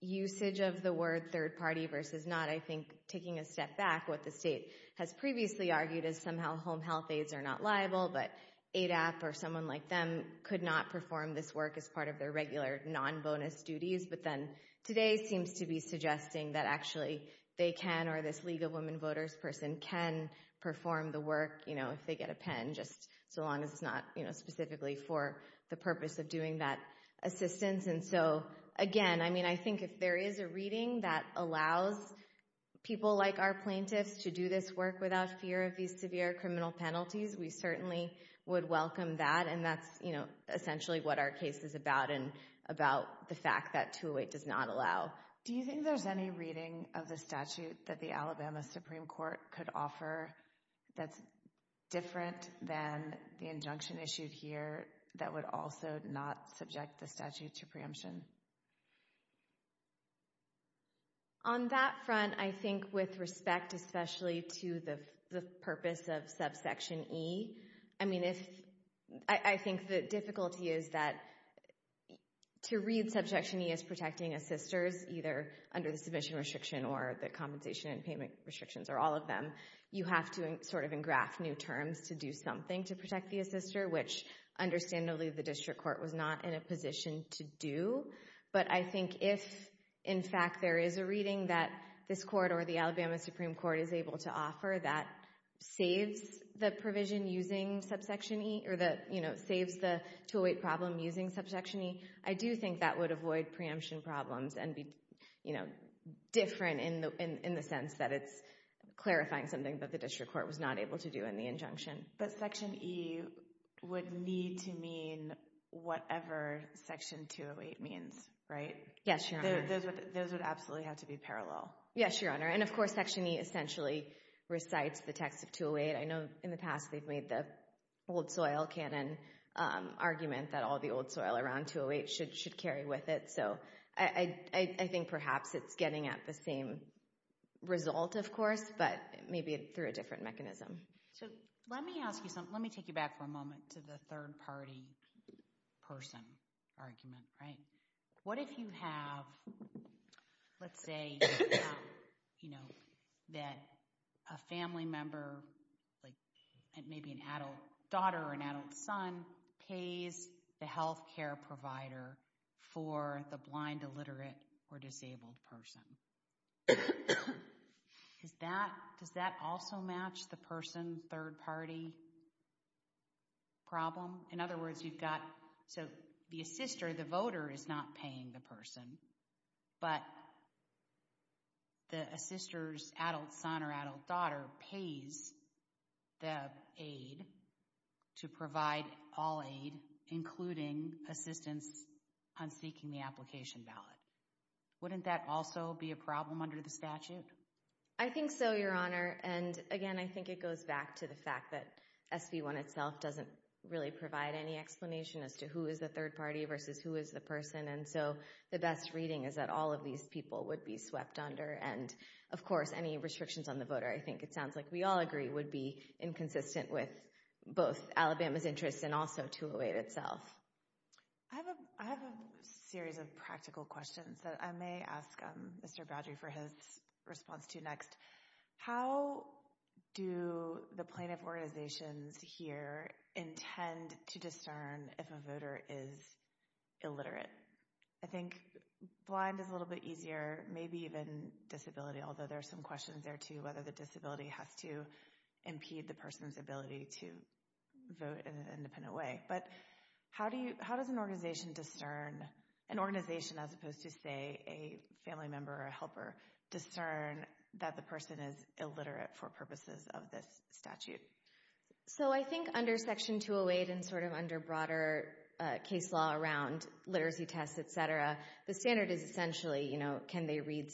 usage of the word third party versus not, I think, taking a step back. What the state has previously argued is somehow home health aides are not liable, but ADAP or someone like them could not perform this work as part of their regular non-bonus duties, but then today seems to be suggesting that actually they can, or this League of Women Voters person can perform the work, you know, if they get a pen, just so long as it's not, you know, specifically for the purpose of doing that assistance. And so, again, I mean, I think if there is a reading that allows people like our plaintiffs to do this work without fear of these severe criminal penalties, we certainly would welcome that, and that's, you know, essentially what our case is about and about the fact that 208 does not allow. Do you think there's any reading of the statute that the Alabama Supreme Court could offer that's different than the injunction issued here that would also not subject the statute to preemption? On that front, I think with respect especially to the purpose of subsection E, I mean, I think the difficulty is that to read subsection E as protecting assisters, either under the submission restriction or the compensation and payment restrictions or all of them, you have to sort of engraft new terms to do something to protect the assister, which understandably the district court was not in a position to do. But I think if, in fact, there is a reading that this court or the Alabama Supreme Court is able to offer that saves the provision using subsection E or that, you know, saves the 208 problem using subsection E, I do think that would avoid preemption problems and be, you know, different in the sense that it's clarifying something that the district court was not able to do in the injunction. But section E would need to mean whatever section 208 means, right? Yes, Your Honor. Those would absolutely have to be parallel. Yes, Your Honor. And, of course, section E essentially recites the text of 208. I know in the past they've made the old soil canon argument that all the old soil around 208 should carry with it. So I think perhaps it's getting at the same result, of course, but maybe through a different mechanism. So let me ask you something. Let me take you back for a moment to the third-party person argument, right? What if you have, let's say, you know, that a family member, like maybe an adult daughter or an adult son, pays the health care provider for the blind, illiterate, or disabled person? Does that also match the person's third-party problem? In other words, you've got, so the assister, the voter, is not paying the person, but the assister's adult son or adult daughter pays the aid to provide all aid, including assistance on seeking the application ballot. Wouldn't that also be a problem under the statute? I think so, Your Honor. And, again, I think it goes back to the fact that SB 1 itself doesn't really provide any explanation as to who is the third-party versus who is the person. And so the best reading is that all of these people would be swept under. And, of course, any restrictions on the voter, I think it sounds like we all agree, would be inconsistent with both Alabama's interests and also 208 itself. I have a series of practical questions that I may ask Mr. Boudry for his response to next. How do the plaintiff organizations here intend to discern if a voter is illiterate? I think blind is a little bit easier, maybe even disability, although there are some questions there, too, whether the disability has to impede the person's ability to vote in an independent way. But how does an organization discern, an organization as opposed to, say, a family member or a helper, discern that the person is illiterate for purposes of this statute? So I think under Section 208 and sort of under broader case law around literacy tests, et cetera, the standard is essentially, you know, can they read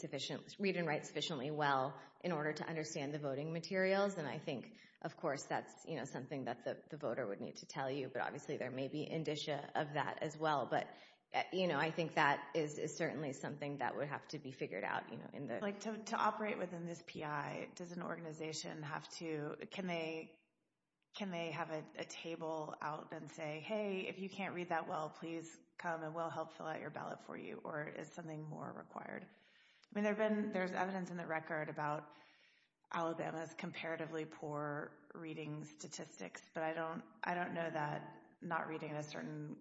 and write sufficiently well in order to understand the voting materials? And I think, of course, that's, you know, something that the voter would need to tell you, but obviously there may be indicia of that as well. But, you know, I think that is certainly something that would have to be figured out. Like to operate within this PI, does an organization have to, can they have a table out and say, hey, if you can't read that well, please come and we'll help fill out your ballot for you, or is something more required? I mean, there's evidence in the record about Alabama's comparatively poor reading statistics, but I don't know that not reading at a certain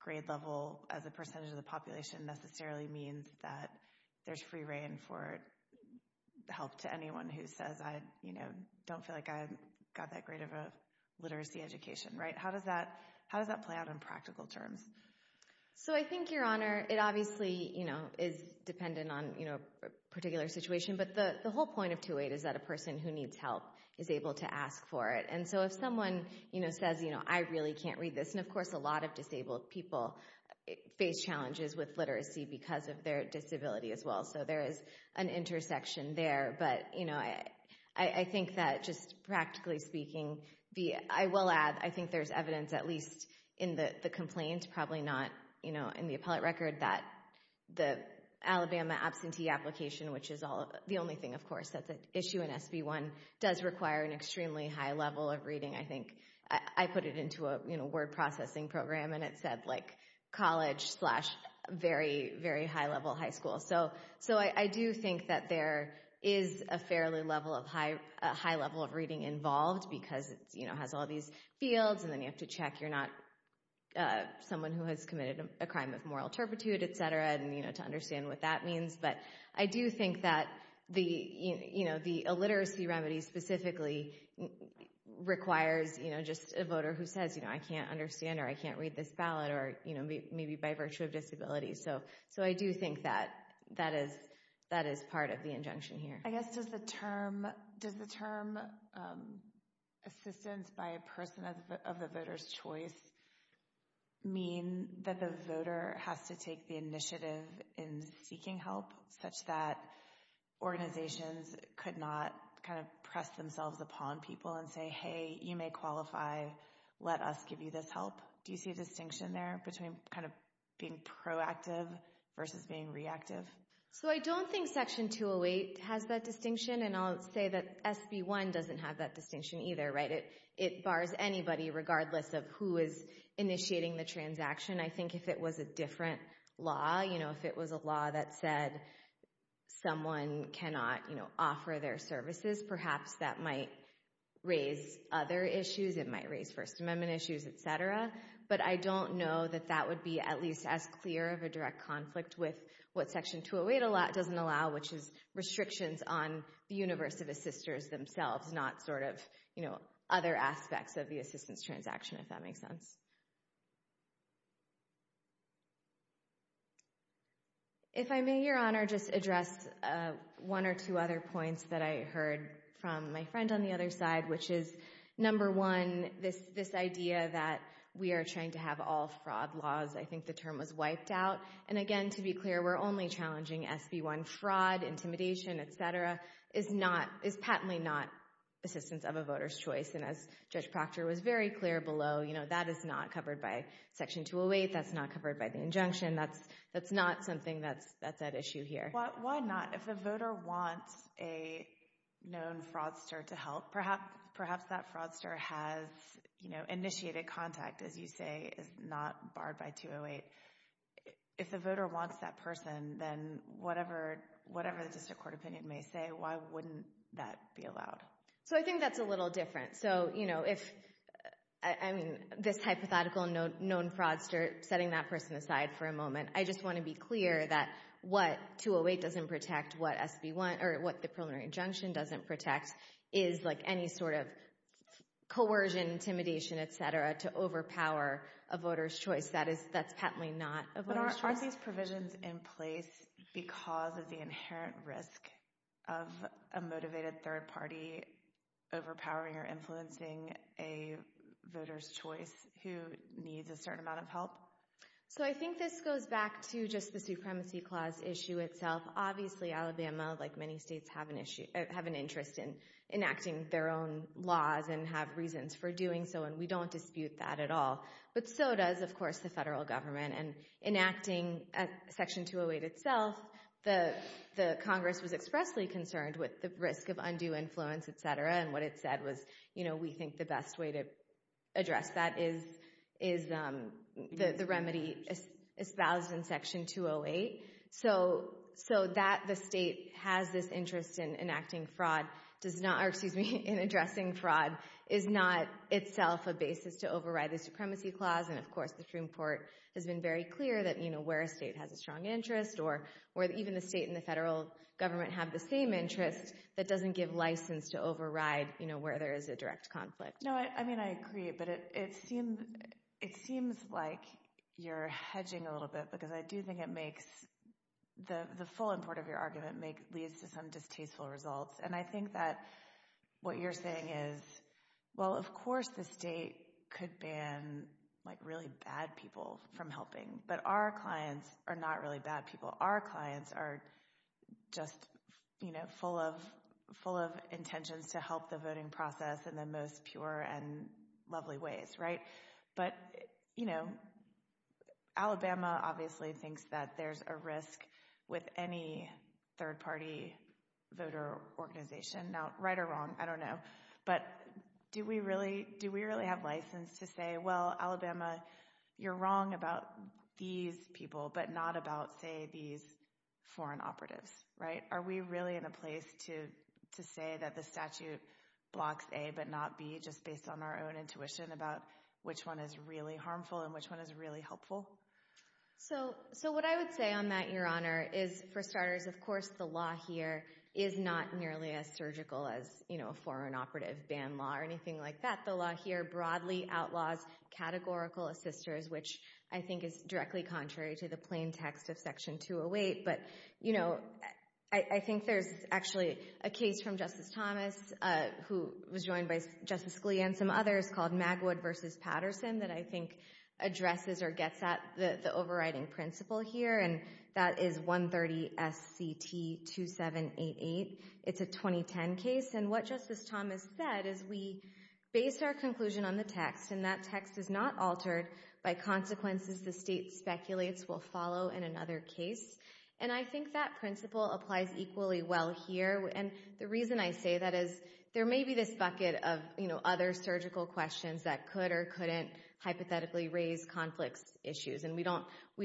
grade level as a percentage of the population necessarily means that there's free reign for help to anyone who says, you know, I don't feel like I got that great of a literacy education, right? How does that play out in practical terms? So I think, Your Honor, it obviously, you know, is dependent on, you know, a particular situation, but the whole point of 2-8 is that a person who needs help is able to ask for it. And so if someone, you know, says, you know, I really can't read this, and of course a lot of disabled people face challenges with literacy because of their disability as well. So there is an intersection there, but, you know, I think that just practically speaking, I will add, I think there's evidence at least in the complaint, probably not, you know, in the appellate record, that the Alabama absentee application, which is the only thing, of course, that's an issue in SB 1, does require an extremely high level of reading. I think I put it into a, you know, word processing program, and it said, like, college slash very, very high level high school. So I do think that there is a fairly high level of reading involved because, you know, it has all these fields, and then you have to check you're not someone who has committed a crime of moral turpitude, et cetera, and, you know, to understand what that means. But I do think that the, you know, the illiteracy remedy specifically requires, you know, just a voter who says, you know, I can't understand or I can't read this ballot or, you know, maybe by virtue of disability. So I do think that is part of the injunction here. I guess does the term assistance by a person of the voter's choice mean that the voter has to take the initiative in seeking help such that organizations could not kind of press themselves upon people and say, hey, you may qualify, let us give you this help? Do you see a distinction there between kind of being proactive versus being reactive? So I don't think Section 208 has that distinction, and I'll say that SB 1 doesn't have that distinction either, right? It bars anybody regardless of who is initiating the transaction. I think if it was a different law, you know, if it was a law that said someone cannot, you know, offer their services, perhaps that might raise other issues. It might raise First Amendment issues, etc. But I don't know that that would be at least as clear of a direct conflict with what Section 208 doesn't allow, which is restrictions on the universe of assisters themselves, not sort of, you know, other aspects of the assistance transaction, if that makes sense. If I may, Your Honor, just address one or two other points that I heard from my friend on the other side, which is, number one, this idea that we are trying to have all fraud laws. I think the term was wiped out. And again, to be clear, we're only challenging SB 1. Fraud, intimidation, etc. is not, is patently not assistance of a voter's choice. And as Judge Proctor was very clear below, you know, that is not the case. That's not covered by Section 208. That's not covered by the injunction. That's not something that's at issue here. Why not? If a voter wants a known fraudster to help, perhaps that fraudster has, you know, initiated contact, as you say, is not barred by 208. If a voter wants that person, then whatever the district court opinion may say, why wouldn't that be allowed? So I think that's a little different. So, you know, if, I mean, this hypothetical known fraudster, setting that person aside for a moment, I just want to be clear that what 208 doesn't protect, what SB 1, or what the preliminary injunction doesn't protect, is like any sort of coercion, intimidation, etc. to overpower a voter's choice. That is, that's patently not a voter's choice. Aren't these provisions in place because of the inherent risk of a motivated third party overpowering or influencing a voter's choice who needs a certain amount of help? So I think this goes back to just the Supremacy Clause issue itself. Obviously, Alabama, like many states, have an interest in enacting their own laws and have reasons for doing so, and we don't dispute that at all. But so does, of course, the federal government. And enacting Section 208 itself, the Congress was expressly concerned with the risk of undue influence, etc., and what it said was, you know, we think the best way to address that is the remedy espoused in Section 208. So that the state has this interest in enacting fraud, does not, or excuse me, in addressing fraud, is not itself a basis to override the Supremacy Clause. And, of course, the Supreme Court has been very clear that, you know, where a state has a strong interest or where even the state and the federal government have the same interest, that doesn't give license to override, you know, where there is a direct conflict. No, I mean, I agree, but it seems like you're hedging a little bit, because I do think it makes, the full import of your argument leads to some distasteful results. And I think that what you're saying is, well, of course the state could ban, like, really bad people from helping, but our clients are not really bad people. Our clients are just, you know, full of intentions to help the voting process in the most pure and lovely ways, right? But, you know, Alabama obviously thinks that there's a risk with any third-party voter organization. Now, right or wrong, I don't know. But do we really have license to say, well, Alabama, you're wrong about these people, but not about, say, these foreign operatives, right? Are we really in a place to say that the statute blocks A but not B, just based on our own intuition about which one is really harmful and which one is really helpful? So what I would say on that, Your Honor, is, for starters, of course, the law here is not nearly as surgical as, you know, a foreign operative ban law or anything like that. The law here broadly outlaws categorical assisters, which I think is directly contrary to the plain text of Section 208. But, you know, I think there's actually a case from Justice Thomas, who was joined by Justice Scalia and some others, called Magwood v. Patterson that I think addresses or gets at the overriding principle here, and that is 130 S.C.T. 2788. It's a 2010 case. And what Justice Thomas said is we base our conclusion on the text, and that text is not altered by consequences the state speculates will follow in another case. And I think that principle applies equally well here. And the reason I say that is there may be this bucket of, you know, other surgical questions that could or couldn't hypothetically raise conflict issues, and we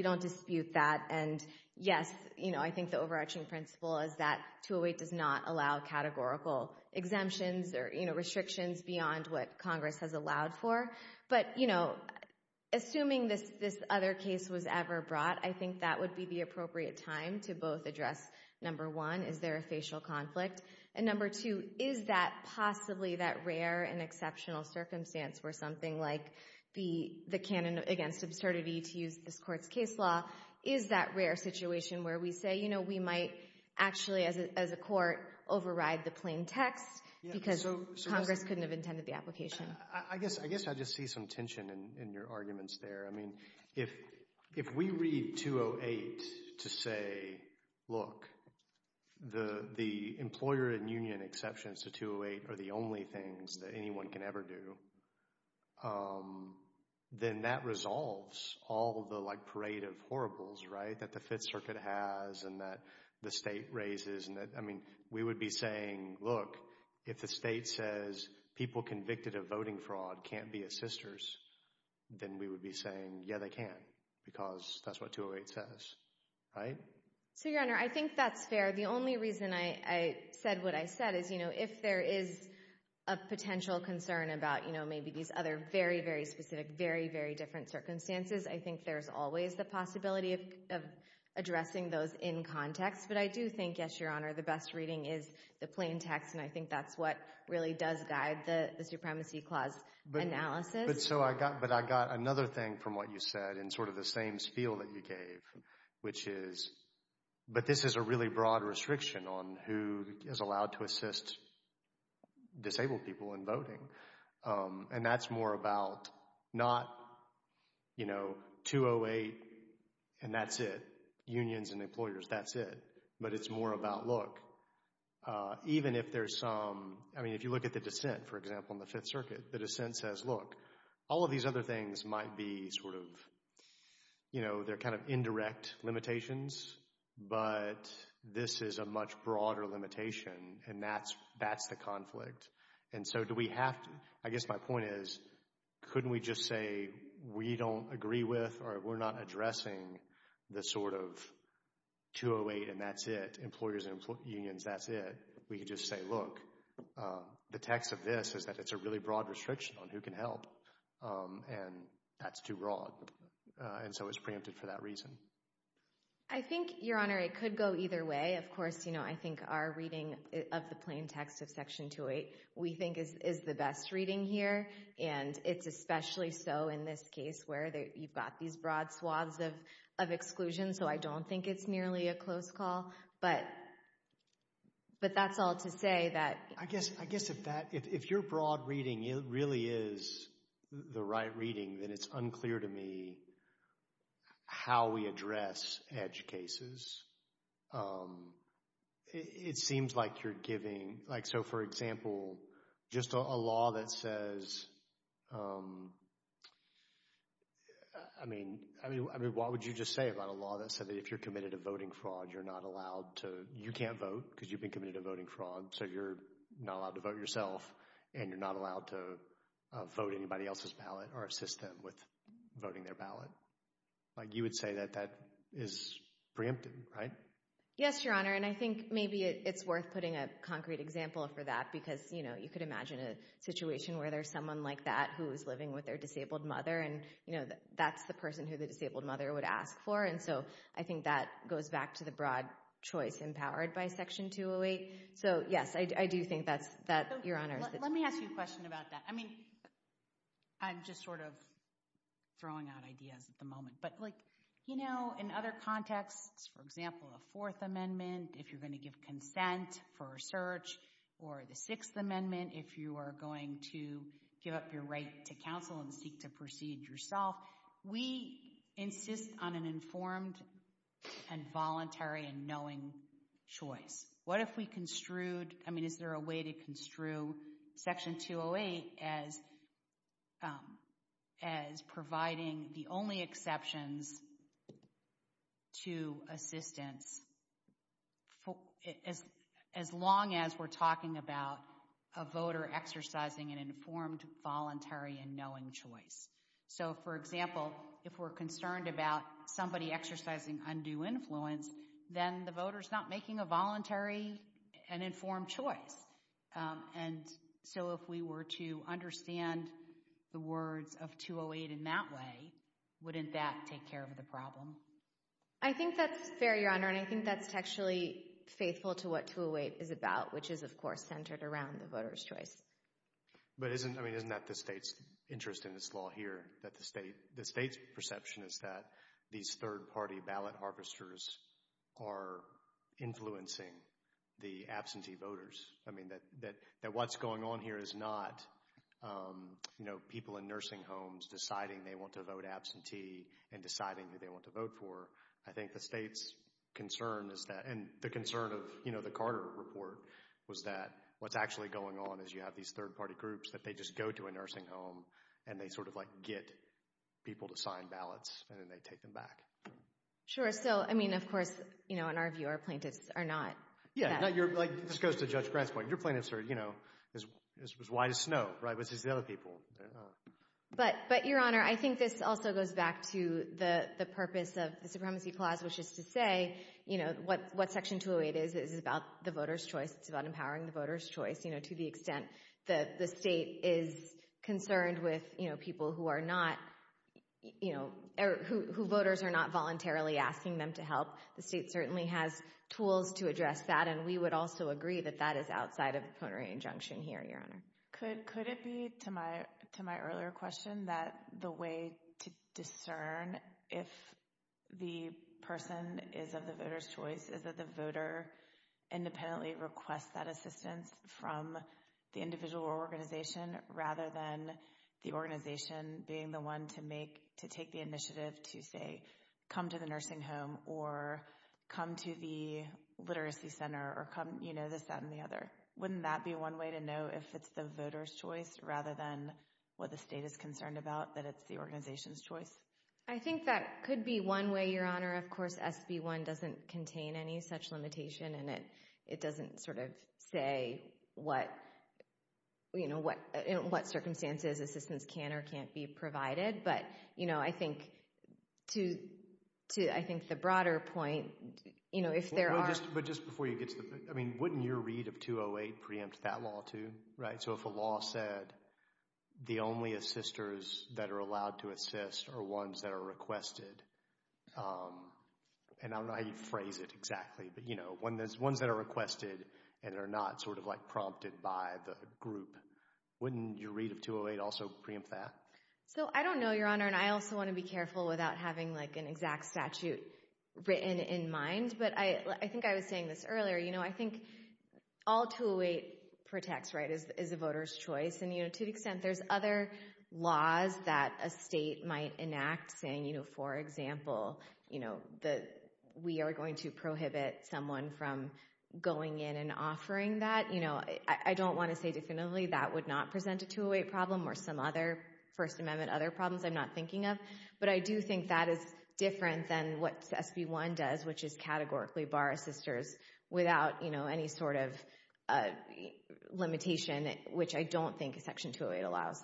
don't dispute that. And, yes, you know, I think the overarching principle is that 208 does not allow categorical exemptions or, you know, restrictions beyond what Congress has allowed for. But, you know, assuming this other case was ever brought, I think that would be the appropriate time to both address, number one, is there a facial conflict, and number two, is that possibly that rare and exceptional circumstance where something like the canon against absurdity to use this Court's case law, is that rare situation where we say, you know, we might actually, as a court, override the plain text because Congress couldn't have intended the application. I guess I just see some tension in your arguments there. I mean, if we read 208 to say, look, the employer and union exceptions to 208 are the only things that anyone can ever do, then that resolves all the, like, parade of horribles, right, that the Fifth Circuit has and that the State raises and that, I mean, we would be saying, look, if the State says people convicted of voting fraud can't be assisters, then we would be saying, yeah, they can because that's what 208 says, right? So, Your Honor, I think that's fair. The only reason I said what I said is, you know, if there is a potential concern about, you know, maybe these other very, very specific, very, very different circumstances, I think there's always the possibility of addressing those in context. But I do think, yes, Your Honor, the best reading is the plain text, and I think that's what really does guide the Supremacy Clause analysis. But I got another thing from what you said in sort of the same spiel that you gave, which is, but this is a really broad restriction on who is allowed to assist disabled people in voting, and that's more about not, you know, 208 and that's it, unions and employers, that's it, but it's more about, look, even if there's some, I mean, if you look at the dissent, for example, in the Fifth Circuit, the dissent says, look, all of these other things might be sort of, you know, they're kind of indirect limitations, but this is a much broader limitation, and that's the conflict. And so do we have to, I guess my point is, couldn't we just say we don't agree with or we're not addressing the sort of 208 and that's it, employers and unions, that's it. We could just say, look, the text of this is that it's a really broad restriction on who can help, and that's too broad, and so it's preempted for that reason. I think, Your Honor, it could go either way. Of course, you know, I think our reading of the plain text of Section 208 we think is the best reading here, and it's especially so in this case where you've got these broad swaths of exclusion, so I don't think it's nearly a close call, but that's all to say that— I guess if your broad reading really is the right reading, then it's unclear to me how we address edge cases. It seems like you're giving, like so, for example, just a law that says, I mean, what would you just say about a law that said that if you're committed to voting fraud, you're not allowed to, you can't vote because you've been committed to voting fraud, so you're not allowed to vote yourself, and you're not allowed to vote anybody else's ballot or assist them with voting their ballot. Like you would say that that is preempted, right? Yes, Your Honor, and I think maybe it's worth putting a concrete example for that because, you know, you could imagine a situation where there's someone like that who is living with their disabled mother, and, you know, that's the person who the disabled mother would ask for, and so I think that goes back to the broad choice empowered by Section 208. So, yes, I do think that, Your Honor— Let me ask you a question about that. I mean, I'm just sort of throwing out ideas at the moment, but like, you know, in other contexts, for example, a Fourth Amendment, if you're going to give consent for a search, or the Sixth Amendment, if you are going to give up your right to counsel and seek to proceed yourself, we insist on an informed and voluntary and knowing choice. What if we construed—I mean, is there a way to construe Section 208 as providing the only exceptions to assistance as long as we're talking about a voter exercising an informed, voluntary, and knowing choice? So, for example, if we're concerned about somebody exercising undue influence, then the voter's not making a voluntary and informed choice, and so if we were to understand the words of 208 in that way, wouldn't that take care of the problem? I think that's fair, Your Honor, and I think that's actually faithful to what 208 is about, which is, of course, centered around the voter's choice. But isn't—I mean, isn't that the state's interest in this law here? That the state's perception is that these third-party ballot harvesters are influencing the absentee voters? I mean, that what's going on here is not, you know, people in nursing homes deciding they want to vote absentee and deciding who they want to vote for. I think the state's concern is that—and the concern of, you know, the Carter report was that what's actually going on is you have these third-party groups that they just go to a nursing home and they sort of, like, get people to sign ballots, and then they take them back. Sure. So, I mean, of course, you know, in our view, our plaintiffs are not— Yeah, like this goes to Judge Grant's point. Your plaintiffs are, you know, as wide as snow, right, versus the other people. But, Your Honor, I think this also goes back to the purpose of the Supremacy Clause, which is to say, you know, what Section 208 is, is about the voters' choice. It's about empowering the voters' choice, you know, to the extent that the state is concerned with, you know, people who are not, you know—who voters are not voluntarily asking them to help. The state certainly has tools to address that, and we would also agree that that is outside of a proponery injunction here, Your Honor. Could it be, to my earlier question, that the way to discern if the person is of the voters' choice is that the voter independently requests that assistance from the individual or organization, rather than the organization being the one to make—to take the initiative to, say, come to the nursing home or come to the literacy center or come, you know, this, that, and the other? Wouldn't that be one way to know if it's the voters' choice, rather than what the state is concerned about, that it's the organization's choice? I think that could be one way, Your Honor. Of course, SB 1 doesn't contain any such limitation, and it doesn't sort of say what, you know, in what circumstances assistance can or can't be provided. But, you know, I think to—I think the broader point, you know, if there are— But just before you get to the—I mean, wouldn't your read of 208 preempt that law, too, right? So if a law said the only assisters that are allowed to assist are ones that are requested, and I don't know how you phrase it exactly, but, you know, ones that are requested and are not sort of, like, prompted by the group, wouldn't your read of 208 also preempt that? So I don't know, Your Honor, and I also want to be careful without having, like, an exact statute written in mind, but I think I was saying this earlier, you know, I think all 208 protects, right, is a voter's choice. And, you know, to the extent there's other laws that a state might enact, saying, you know, for example, you know, that we are going to prohibit someone from going in and offering that, you know, I don't want to say definitively that would not present a 208 problem or some other First Amendment, other problems I'm not thinking of, but I do think that is different than what SB 1 does, which is categorically bar assisters without, you know, any sort of limitation, which I don't think a Section 208 allows.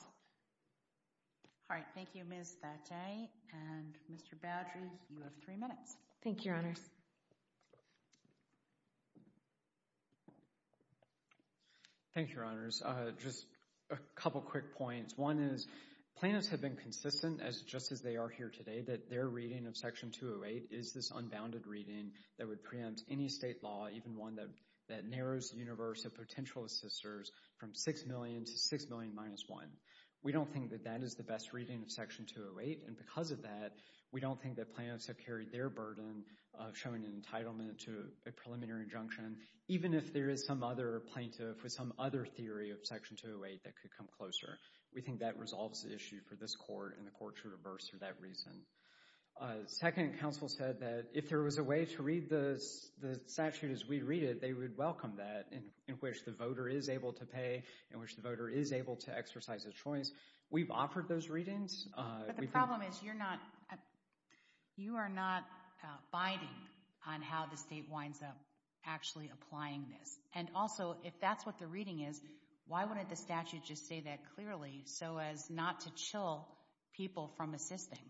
All right. Thank you, Ms. Thachai. And, Mr. Boudry, you have three minutes. Thank you, Your Honors. Thank you, Your Honors. Just a couple quick points. One is plaintiffs have been consistent, just as they are here today, that their reading of Section 208 is this unbounded reading that would preempt any state law, even one that narrows the universe of potential assisters from six million to six million minus one. We don't think that that is the best reading of Section 208. And because of that, we don't think that plaintiffs have carried their burden of showing an entitlement to a preliminary injunction, even if there is some other plaintiff with some other theory of Section 208 that could come closer. We think that resolves the issue for this Court, and the Court should reverse for that reason. Second, counsel said that if there was a way to read the statute as we read it, they would welcome that, in which the voter is able to pay, in which the voter is able to exercise a choice. We've offered those readings. But the problem is you're not – you are not binding on how the state winds up actually applying this. And also, if that's what the reading is, why wouldn't the statute just say that clearly so as not to chill people from assisting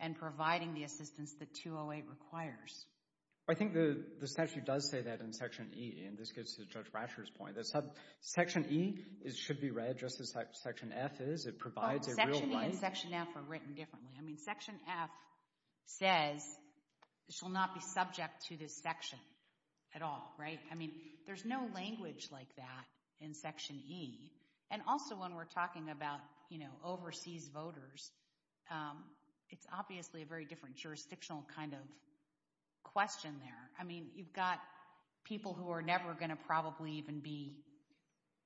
and providing the assistance that 208 requires? I think the statute does say that in Section E, and this gets to Judge Brasher's point. Section E should be read just as Section F is. It provides a real place. Section E and Section F are written differently. I mean, Section F says it shall not be subject to this section at all, right? I mean, there's no language like that in Section E. And also, when we're talking about, you know, overseas voters, it's obviously a very different jurisdictional kind of question there. I mean, you've got people who are never going to probably even be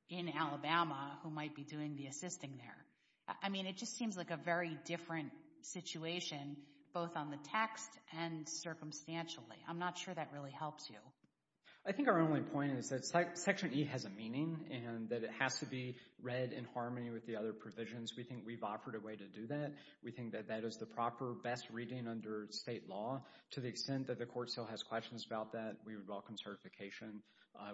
in Alabama who might be doing the assisting there. I mean, it just seems like a very different situation, both on the text and circumstantially. I'm not sure that really helps you. I think our only point is that Section E has a meaning and that it has to be read in harmony with the other provisions. We think we've offered a way to do that. We think that that is the proper best reading under state law. To the extent that the court still has questions about that, we would welcome certification.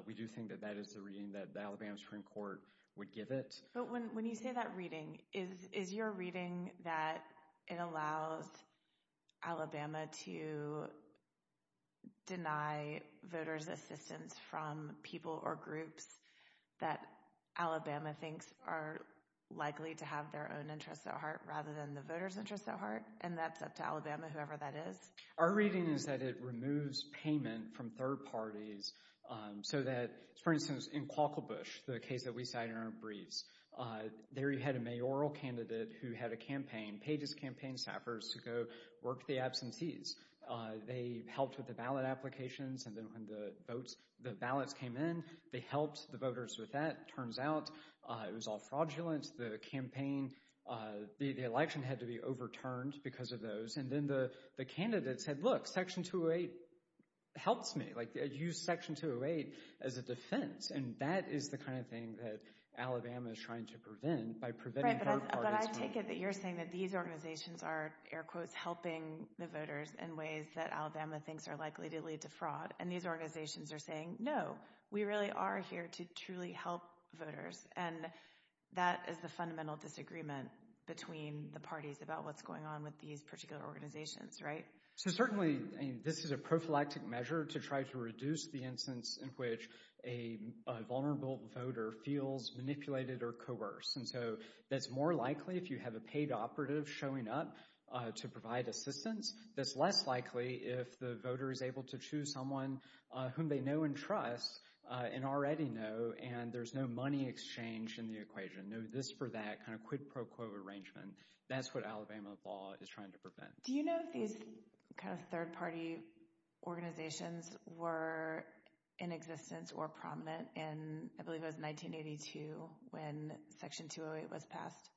We do think that that is the reading that the Alabama Supreme Court would give it. But when you say that reading, is your reading that it allows Alabama to deny voters' assistance from people or groups that Alabama thinks are likely to have their own interests at heart rather than the voters' interests at heart? And that's up to Alabama, whoever that is? Our reading is that it removes payment from third parties so that— For instance, in Quaklebush, the case that we cited in our briefs, there you had a mayoral candidate who had a campaign, paid his campaign staffers to go work the absentees. They helped with the ballot applications. And then when the ballots came in, they helped the voters with that. It turns out it was all fraudulent. The election had to be overturned because of those. And then the candidate said, look, Section 208 helps me. Use Section 208 as a defense. And that is the kind of thing that Alabama is trying to prevent by preventing third parties from— But I take it that you're saying that these organizations are, air quotes, helping the voters in ways that Alabama thinks are likely to lead to fraud. And these organizations are saying, no, we really are here to truly help voters. And that is the fundamental disagreement between the parties about what's going on with these particular organizations, right? So certainly, this is a prophylactic measure to try to reduce the instance in which a vulnerable voter feels manipulated or coerced. And so that's more likely if you have a paid operative showing up to provide assistance. That's less likely if the voter is able to choose someone whom they know and trust and already know, and there's no money exchange in the equation. No this for that, kind of quid pro quo arrangement. That's what Alabama law is trying to prevent. Do you know if these kind of third-party organizations were in existence or prominent in, I believe it was 1982 when Section 208 was passed?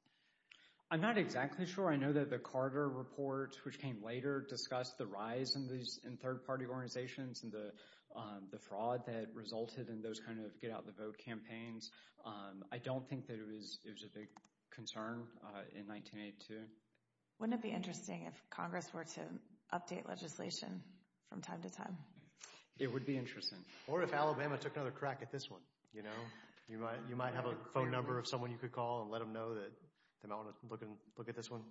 I'm not exactly sure. I know that the Carter report, which came later, discussed the rise in third-party organizations and the fraud that resulted in those kind of get-out-the-vote campaigns. I don't think that it was a big concern in 1982. Wouldn't it be interesting if Congress were to update legislation from time to time? It would be interesting. Or if Alabama took another crack at this one, you know? You might have a phone number of someone you could call and let them know that they might want to look at this one,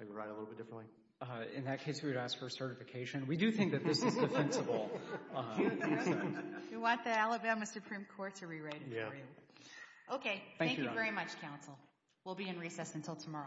maybe write it a little bit differently. In that case, we would ask for a certification. We do think that this is defensible. You want the Alabama Supreme Court to rewrite it for you. Yeah. Okay. Thank you very much, counsel. We'll be in recess until tomorrow.